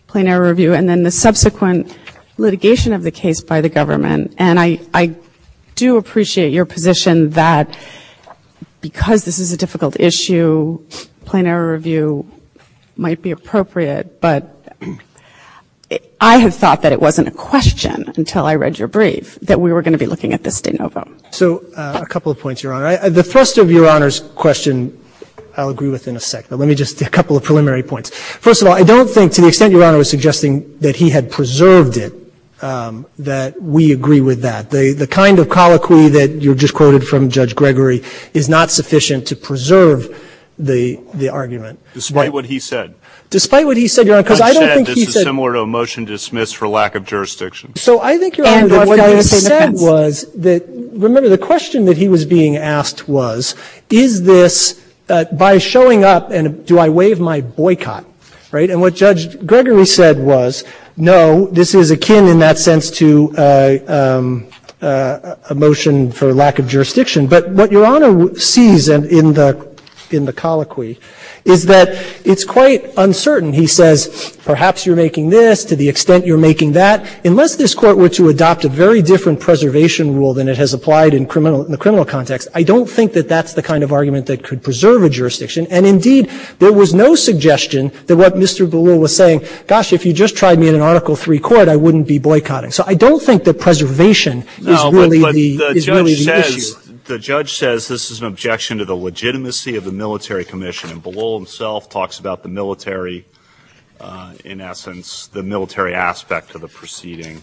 plenary review, and then the subsequent litigation of the case by the government, and I do appreciate your position that because this is a difficult issue, plenary review might be appropriate, but I have thought that it wasn't a question until I read your brief that we were going to be looking at this de novo. So a couple of points, Your Honor. The first of Your Honor's questions I'll agree with in a sec, but let me just, a couple of preliminary points. First of all, I don't think to the extent Your Honor was suggesting that he had preserved it, that we agree with that. The kind of colloquy that you just quoted from Judge Gregory is not sufficient to preserve the argument. Despite what he said. Despite what he said, Your Honor, because I don't think he said— I said this is similar to a motion dismissed for lack of jurisdiction. So I think what he said was that, remember the question that he was being asked was, is this, by showing up, and do I waive my boycott, right? And what Judge Gregory said was, no, this is akin in that sense to a motion for lack of jurisdiction. But what Your Honor sees in the colloquy is that it's quite uncertain. He says, perhaps you're making this to the extent you're making that. Unless this Court were to adopt a very different preservation rule than it has applied in the criminal context, I don't think that that's the kind of argument that could preserve a jurisdiction. And indeed, there was no suggestion that what Mr. Bellull was saying, gosh, if you just tried me in an Article III court, I wouldn't be boycotting. So I don't think that preservation is really the issue. The judge says this is an objection to the legitimacy of the military commission. And Bellull himself talks about the military, in essence, the military aspect of the proceeding.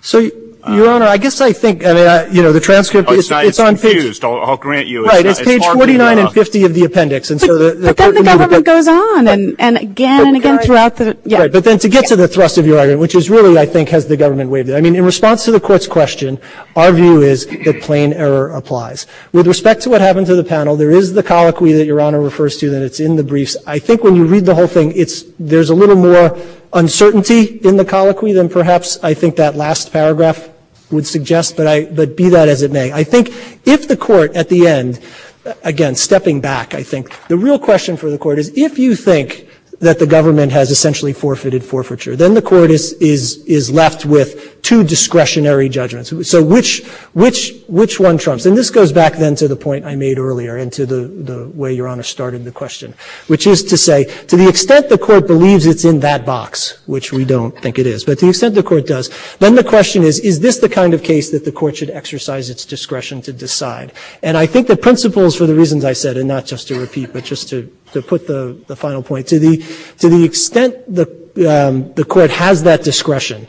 So, Your Honor, I guess I think, you know, the transcript is on page— I'm confused. I'll grant you— Right, it's page 49 and 50 of the appendix. Because the government goes on and again and again throughout the— Right, but then to get to the thrust of your argument, which is really, I think, has the government waived it. I mean, in response to the Court's question, our view is that plain error applies. With respect to what happened to the panel, there is the colloquy that Your Honor refers to, and it's in the briefs. I think when you read the whole thing, there's a little more uncertainty in the colloquy than perhaps I think that last paragraph would suggest, but be that as it may. I think if the Court, at the end, again, stepping back, I think, the real question for the Court is if you think that the government has essentially forfeited forfeiture, then the Court is left with two discretionary judgments. So which one trumps? And this goes back then to the point I made earlier and to the way Your Honor started the question, which is to say, to the extent the Court believes it's in that box, which we don't think it is, but to the extent the Court does, then the question is, is this the kind of case that the Court should exercise its discretion to decide? And I think the principles for the reasons I said, and not just to repeat, but just to put the final point, to the extent the Court has that discretion,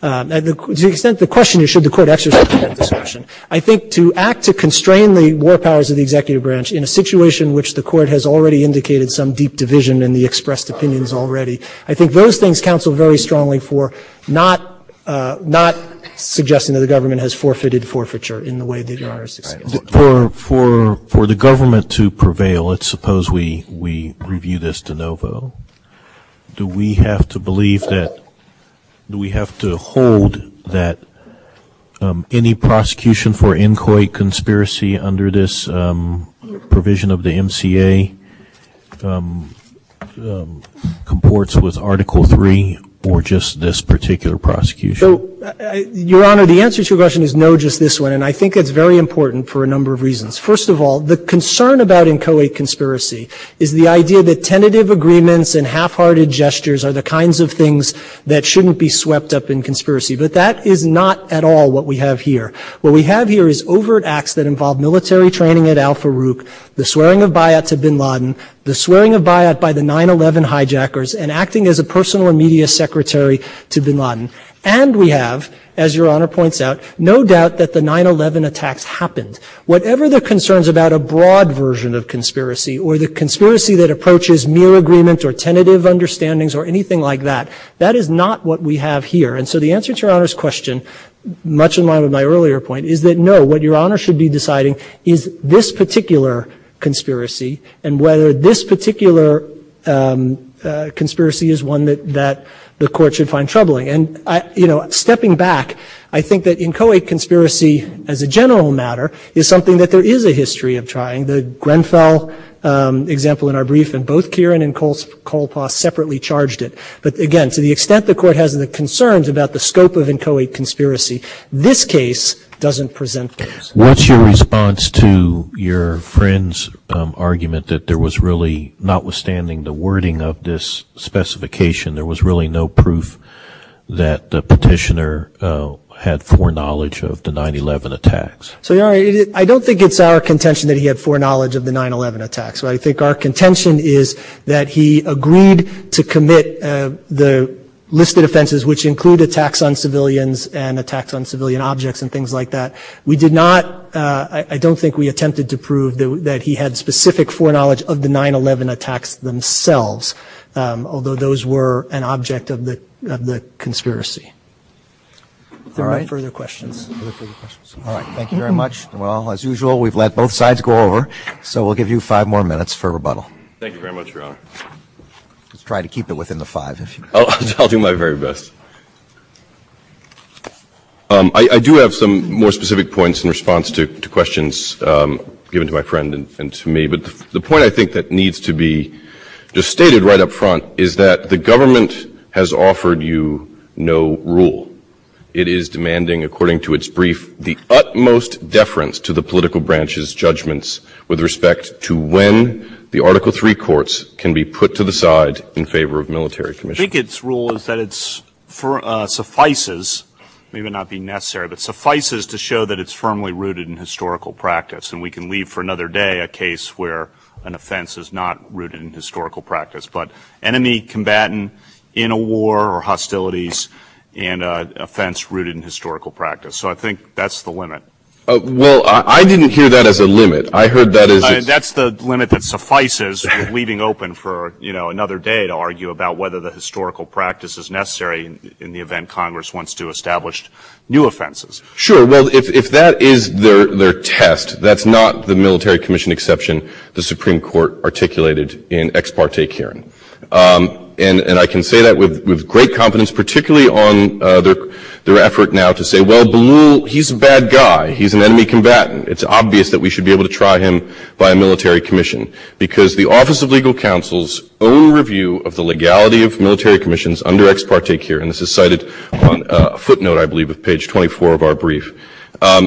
to the extent the question is should the Court exercise that discretion, I think to act to constrain the war powers of the executive branch in a situation which the Court has already indicated some deep division in the expressed opinions already, I think those things counsel very strongly for, not suggesting that the government has forfeited forfeiture in the way that Your Honor's describing. For the government to prevail, let's suppose we review this de novo, do we have to believe that, do we have to hold that any prosecution for inquiry conspiracy under this provision of the MCA comports with Article III, or just this particular prosecution? So, Your Honor, the answer to your question is no, just this one, and I think it's very important for a number of reasons. First of all, the concern about inchoate conspiracy is the idea that tentative agreements and half-hearted gestures are the kinds of things that shouldn't be swept up in conspiracy, but that is not at all what we have here. What we have here is overt acts that involve military training at Al-Faruq, the swearing of bai'at to bin Laden, the swearing of bai'at by the 9-11 hijackers, and acting as a personal media secretary to bin Laden, and we have, as Your Honor points out, no doubt that the 9-11 attacks happened. Whatever the concerns about a broad version of conspiracy or the conspiracy that approaches mere agreement or tentative understandings or anything like that, that is not what we have here. The answer to Your Honor's question, much in line with my earlier point, is that no, what Your Honor should be deciding is this particular conspiracy, and whether this particular conspiracy is one that the court should find troubling. Stepping back, I think that inchoate conspiracy, as a general matter, is something that there is a history of trying. The Grenfell example in our brief, and both Kieran and Koltoff separately charged it. But again, to the extent the court has the concerns about the scope of inchoate conspiracy, this case doesn't present this. What's your response to your friend's argument that there was really, notwithstanding the wording of this specification, there was really no proof that the petitioner had foreknowledge of the 9-11 attacks? I don't think it's our contention that he had foreknowledge of the 9-11 attacks. I think our contention is that he agreed to commit the listed offenses, which include attacks on civilians and attacks on civilian objects and things like that. We did not, I don't think we attempted to prove that he had specific foreknowledge of the 9-11 attacks themselves, although those were an object of the conspiracy. Are there any further questions? All right, thank you very much. Well, as usual, we've let both sides go over, so we'll give you five more minutes for rebuttal. Thank you very much, Your Honor. Let's try to keep it within the five. I'll do my very best. I do have some more specific points in response to questions given to my friend and to me, but the point I think that needs to be just stated right up front is that the government has offered you no rule. It is demanding, according to its brief, the utmost deference to the political branch's judgments with respect to when the Article III courts can be put to the side in favor of military commission. I think its rule is that it suffices, maybe not being necessary, but suffices to show that it's firmly rooted in historical practice, and we can leave for another day a case where an offense is not rooted in historical practice. But enemy combatant in a war or hostilities, an offense rooted in historical practice. So I think that's the limit. Well, I didn't hear that as a limit. I heard that as a... That's the limit that suffices, leaving open for, you know, another day to argue about whether the historical practice is necessary in the event Congress wants to establish new offenses. Sure. And I can say that with great confidence, particularly on their effort now to say, well, Belul, he's a bad guy. He's an enemy combatant. It's obvious that we should be able to try him by a military commission, because the Office of Legal Counsel's own review of the legality of military commissions under ex parte here, and this is cited on a footnote, I believe, of page 24 of our brief,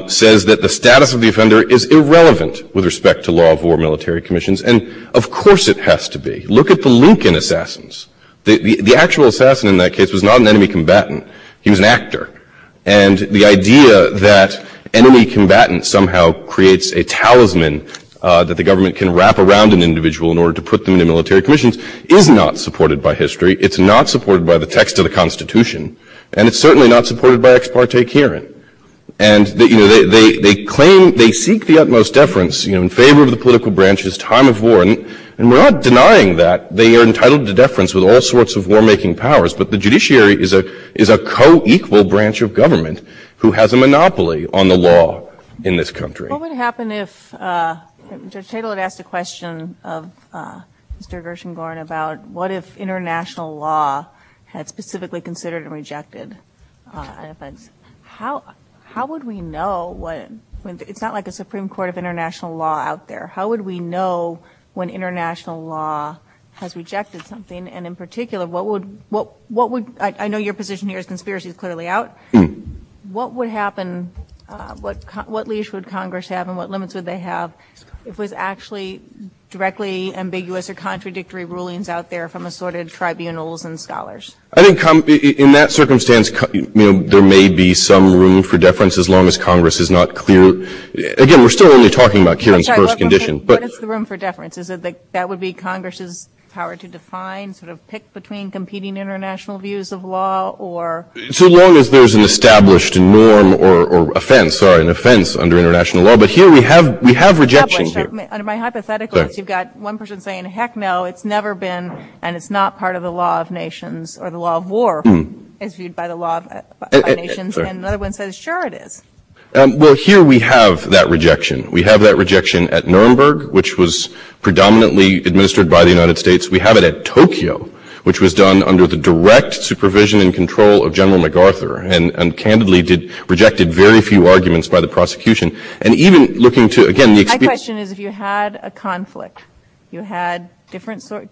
says that the status of the offender is irrelevant with respect to law of war, military commissions, and of course it has to be. Look at the Lincoln assassins. The actual assassin in that case was not an enemy combatant, he was an actor, and the idea that enemy combatants somehow creates a talisman that the government can wrap around an individual in order to put them in the military commissions is not supported by history, it's not supported by the text of the Constitution, and it's certainly not supported by ex parte here. And, you know, they claim, they seek the utmost deference, you know, in favor of the political branch's time of war, and we're not denying that, they are entitled to deference with all sorts of war-making powers, but the judiciary is a co-equal branch of government who has a monopoly on the law in this country. What would happen if, Judge Tittle had asked a question of Mr. Gershengorn about what if international law had specifically considered and rejected, how would we know what, it's not like a Supreme Court of international law out there, how would we know when international law has rejected something, and in particular, what would, I know your position here is conspiracy clearly out, what would happen, what leash would Congress have and what limits would they have if it was actually directly ambiguous or contradictory rulings out there from assorted tribunals and scholars? In that circumstance, you know, there may be some room for deference as long as Congress is not clear, again, we're still only talking about Kieran's first condition, but... What is the room for deference? Is it that that would be Congress's power to define, sort of pick between competing international views of law, or... So long as there's an established norm or offense, sorry, an offense under international law, but here we have, we have rejection here. My hypothetical is you've got one person saying, heck no, it's never been, and it's not part of the law of nations, or the law of war, as viewed by the law of nations, and another Well, here we have that rejection. We have that rejection at Nuremberg, which was predominantly administered by the United States. We have it at Tokyo, which was done under the direct supervision and control of General MacArthur, and candidly rejected very few arguments by the prosecution, and even looking to, again... My question is, if you had a conflict, you had different sources,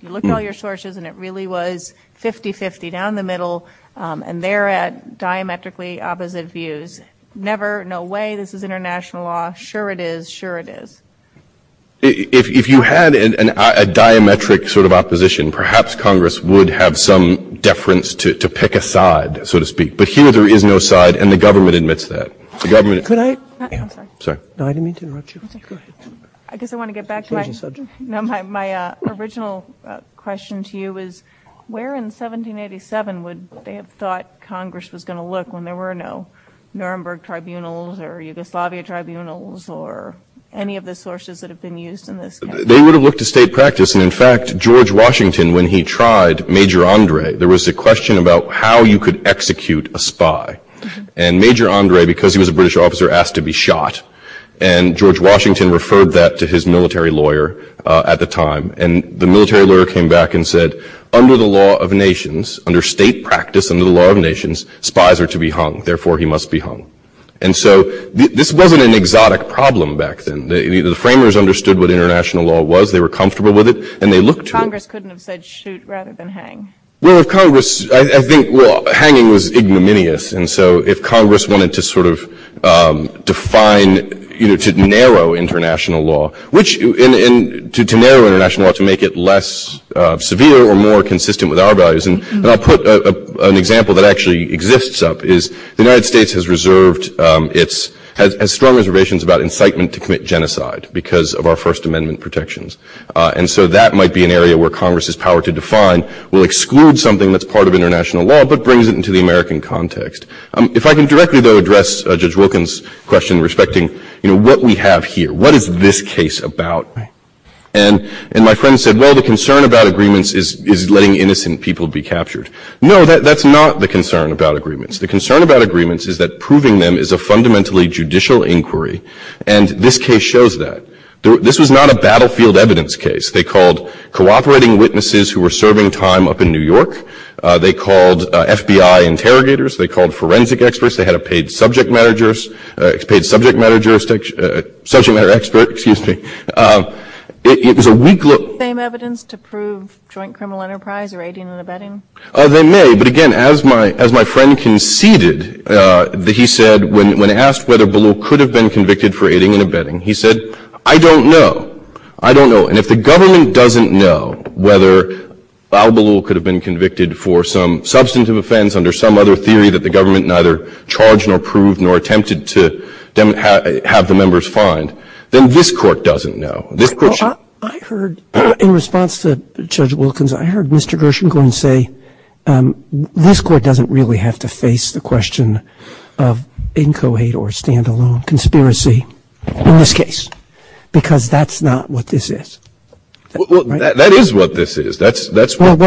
you looked at all your sources and it really was 50-50 down the middle, and they're at diametrically opposite views, never, no way, this is international law, sure it is, sure it is. If you had a diametric sort of opposition, perhaps Congress would have some deference to pick a side, so to speak, but here there is no side, and the government admits that. The government... Could I... Sorry. No, I didn't mean to interrupt you. I guess I want to get back to my original question to you is, where in 1787 would they have looked when there were no Nuremberg tribunals, or Yugoslavia tribunals, or any of the sources that have been used in this case? They would have looked at state practice, and in fact, George Washington, when he tried Major Andre, there was a question about how you could execute a spy, and Major Andre, because he was a British officer, asked to be shot, and George Washington referred that to his military lawyer at the time, and the military lawyer came back and said, under the law of nations, under state practice, under the law of nations, spies are to be hung, therefore he must be hung, and so this wasn't an exotic problem back then. The framers understood what international law was, they were comfortable with it, and they looked to... Congress couldn't have said, shoot, rather than hang. Well, if Congress... I think... Well, hanging was ignominious, and so if Congress wanted to sort of define, you know, to narrow international law, which, to narrow international law, to make it less severe, or more consistent with our values, and I'll put an example that actually exists up, is the United States has reserved its, has strong reservations about incitement to commit genocide, because of our First Amendment protections, and so that might be an area where Congress's power to define will exclude something that's part of international law, but brings it into the American context. If I can directly, though, address Judge Wilkins' question, respecting, you know, what we have here, what is this case about? And my friend said, well, the concern about agreements is letting innocent people be captured. No, that's not the concern about agreements. The concern about agreements is that proving them is a fundamentally judicial inquiry, and this case shows that. This was not a battlefield evidence case, they called cooperating witnesses who were forensic experts, they had a paid subject matter jurist, paid subject matter juristic, subject matter expert, excuse me, it was a weak look. Is this the same evidence to prove joint criminal enterprise, or aiding and abetting? They may, but again, as my friend conceded, he said, when asked whether Ballou could have been convicted for aiding and abetting, he said, I don't know, I don't know, and if the government doesn't know whether Al Ballou could have been convicted for some substantive offense under some other theory that the government neither charged nor proved nor attempted to have the members fined, then this court doesn't know. I heard, in response to Judge Wilkins, I heard Mr. Gershon go and say, this court doesn't really have to face the question of inchoate or standalone conspiracy in this case, because that's not what this is. That is what this is. Why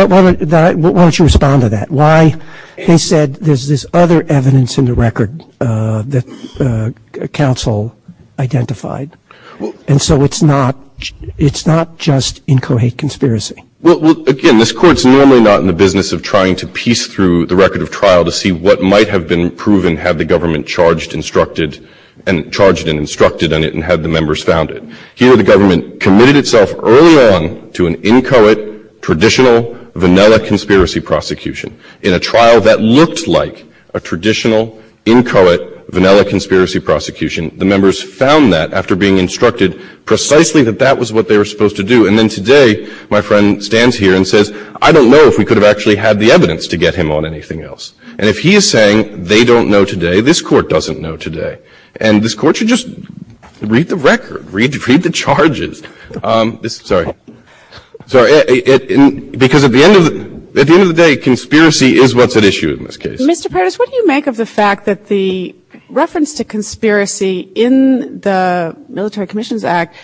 don't you respond to that? Why, he said, there's this other evidence in the record that counsel identified, and so it's not just inchoate conspiracy. Well, again, this court's normally not in the business of trying to piece through the record of trial to see what might have been proven had the government charged and instructed on it and had the members found it. Here, the government committed itself early on to an inchoate, traditional, vanilla conspiracy prosecution in a trial that looked like a traditional, inchoate, vanilla conspiracy prosecution. The members found that after being instructed precisely that that was what they were supposed to do. And then today, my friend stands here and says, I don't know if we could have actually had the evidence to get him on anything else. And if he is saying they don't know today, this court doesn't know today. And this court should just read the record, read the charges. Because at the end of the day, conspiracy is what's at issue in this case. Mr. Paris, what do you make of the fact that the reference to conspiracy in the Military Commissions Act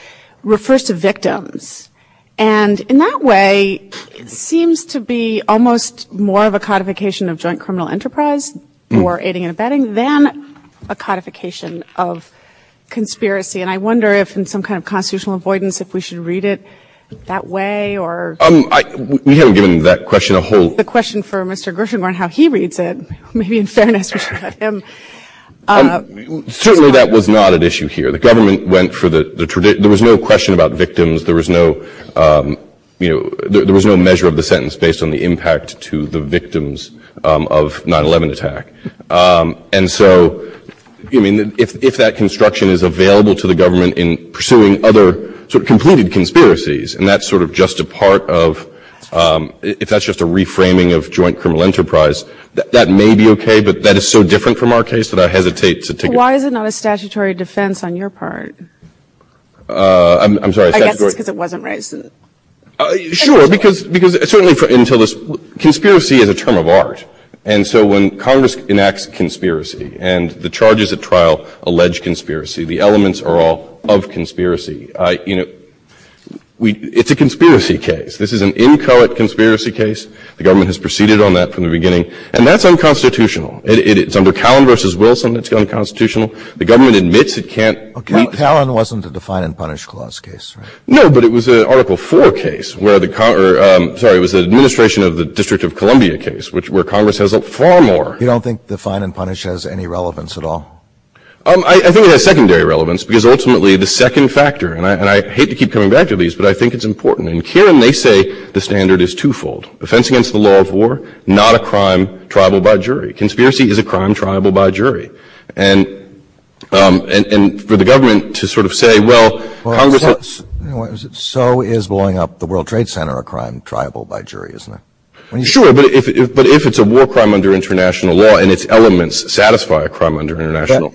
refers to victims? And in that way, it seems to be almost more of a codification of joint criminal enterprise, more aiding and abetting, than a codification of conspiracy. And I wonder if, in some kind of constitutional avoidance, if we should read it that way, or... We haven't given that question a whole... The question for Mr. Grisham on how he reads it, maybe instead of answering it for him. Certainly, that was not at issue here. The government went for the tradition... There was no question about victims. There was no measure of the sentence based on the impact to the victims of 9-11 attack. And so, if that construction is available to the government in pursuing other sort of completed conspiracies, and that's sort of just a part of, if that's just a reframing of joint criminal enterprise, that may be okay, but that is so different from our case that I hesitate to take it... Why is it not a statutory defense on your part? I'm sorry, a statutory... I get this because it wasn't raised in the... Sure, because it's only until this... Conspiracy is a term of art. And so, when Congress enacts a conspiracy, and the charges at trial allege conspiracy, the elements are all of conspiracy, it's a conspiracy case. This is an incoherent conspiracy case. The government has proceeded on that from the beginning. And that's unconstitutional. It's under Callan v. Wilson that's unconstitutional. The government admits it can't... Callan wasn't the Define and Punish Clause case, right? No, but it was an Article IV case, where the... Congress has a far more... You don't think Define and Punish has any relevance at all? I think it has secondary relevance, because ultimately the second factor, and I hate to keep coming back to these, but I think it's important, and Karen may say the standard is twofold. Offense against the law of war, not a crime triable by jury. Conspiracy is a crime triable by jury. And for the government to sort of say, well, Congress has... So is blowing up the World Trade Center a crime triable by jury, isn't it? Sure, but if it's a war crime under international law and its elements satisfy a crime under international...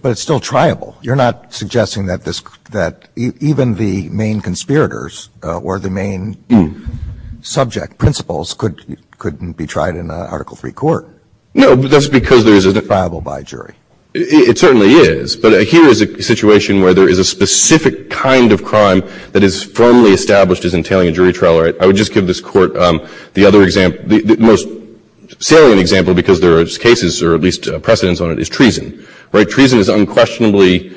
But it's still triable. You're not suggesting that even the main conspirators or the main subject principles couldn't be tried in an article-free court. No, but that's because there's a... Is it triable by jury? It certainly is. But here is a situation where there is a specific kind of crime that is firmly established as entailing a jury trial. I would just give this court the other example, the most salient example, because there are cases or at least precedents on it, is treason. Treason unquestionably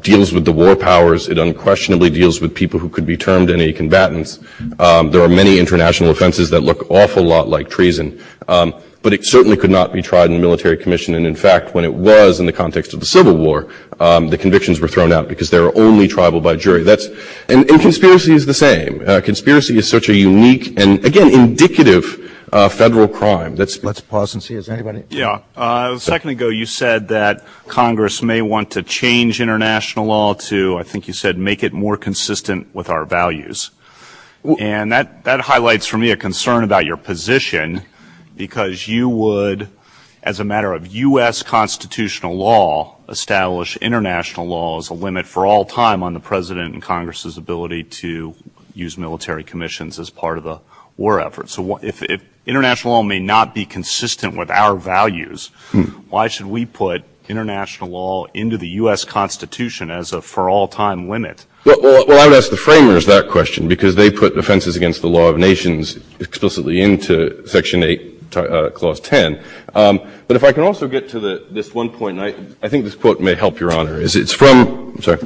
deals with the war powers. It unquestionably deals with people who could be termed any combatants. There are many international offenses that look awful lot like treason, but it certainly could not be tried in a military commission. And in fact, when it was in the context of the Civil War, the convictions were thrown out because they were only triable by jury. And conspiracy is the same. Conspiracy is such a unique and, again, indicative federal crime that's... Let's pause and see. Has anybody... Yeah. A second ago, you said that Congress may want to change international law to, I think you said, make it more consistent with our values. And that highlights for me a concern about your position because you would, as a matter of U.S. constitutional law, establish international law as a limit for all time on the president and Congress's ability to use military commissions as part of the war effort. So if international law may not be consistent with our values, why should we put international law into the U.S. Constitution as a for all time limit? Well, I would ask the framers that question because they put the offenses against the law of nations explicitly into Section 8, Clause 10. But if I can also get to this one point, and I think this quote may help, Your Honor, is it's from... I'm sorry.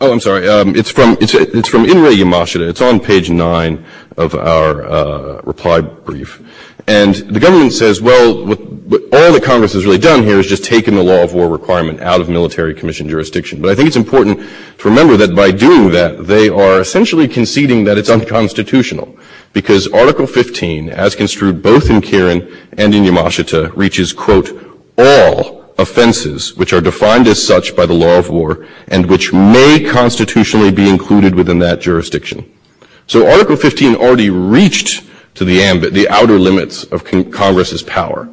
Oh, I'm sorry. It's from Inouye Yamashita. It's on page 9 of our reply brief. And the government says, well, all that Congress has really done here is just taken the law of war requirement out of military commission jurisdiction. But I think it's important to remember that by doing that, they are essentially conceding that it's unconstitutional because Article 15, as construed both in Kirin and in Yamashita, reaches, quote, all offenses which are defined as such by the law of war and which may constitutionally be included within that jurisdiction. So Article 15 already reached to the outer limits of Congress's power.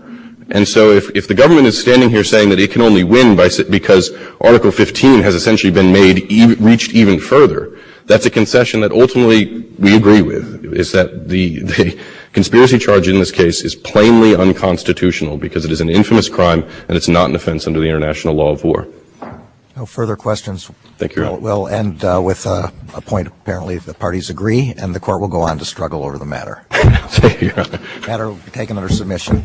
And so if the government is standing here saying that it can only win because Article 15 has essentially been made, reached even further, that's a concession that ultimately we agree with is that the conspiracy charge in this case is plainly unconstitutional because it is an infamous crime and it's not an offense under the international law of war. No further questions. Thank you, Your Honor. We'll end with a point, apparently, if the parties agree, and the Court will go on to struggle over the matter. The matter will be taken under submission.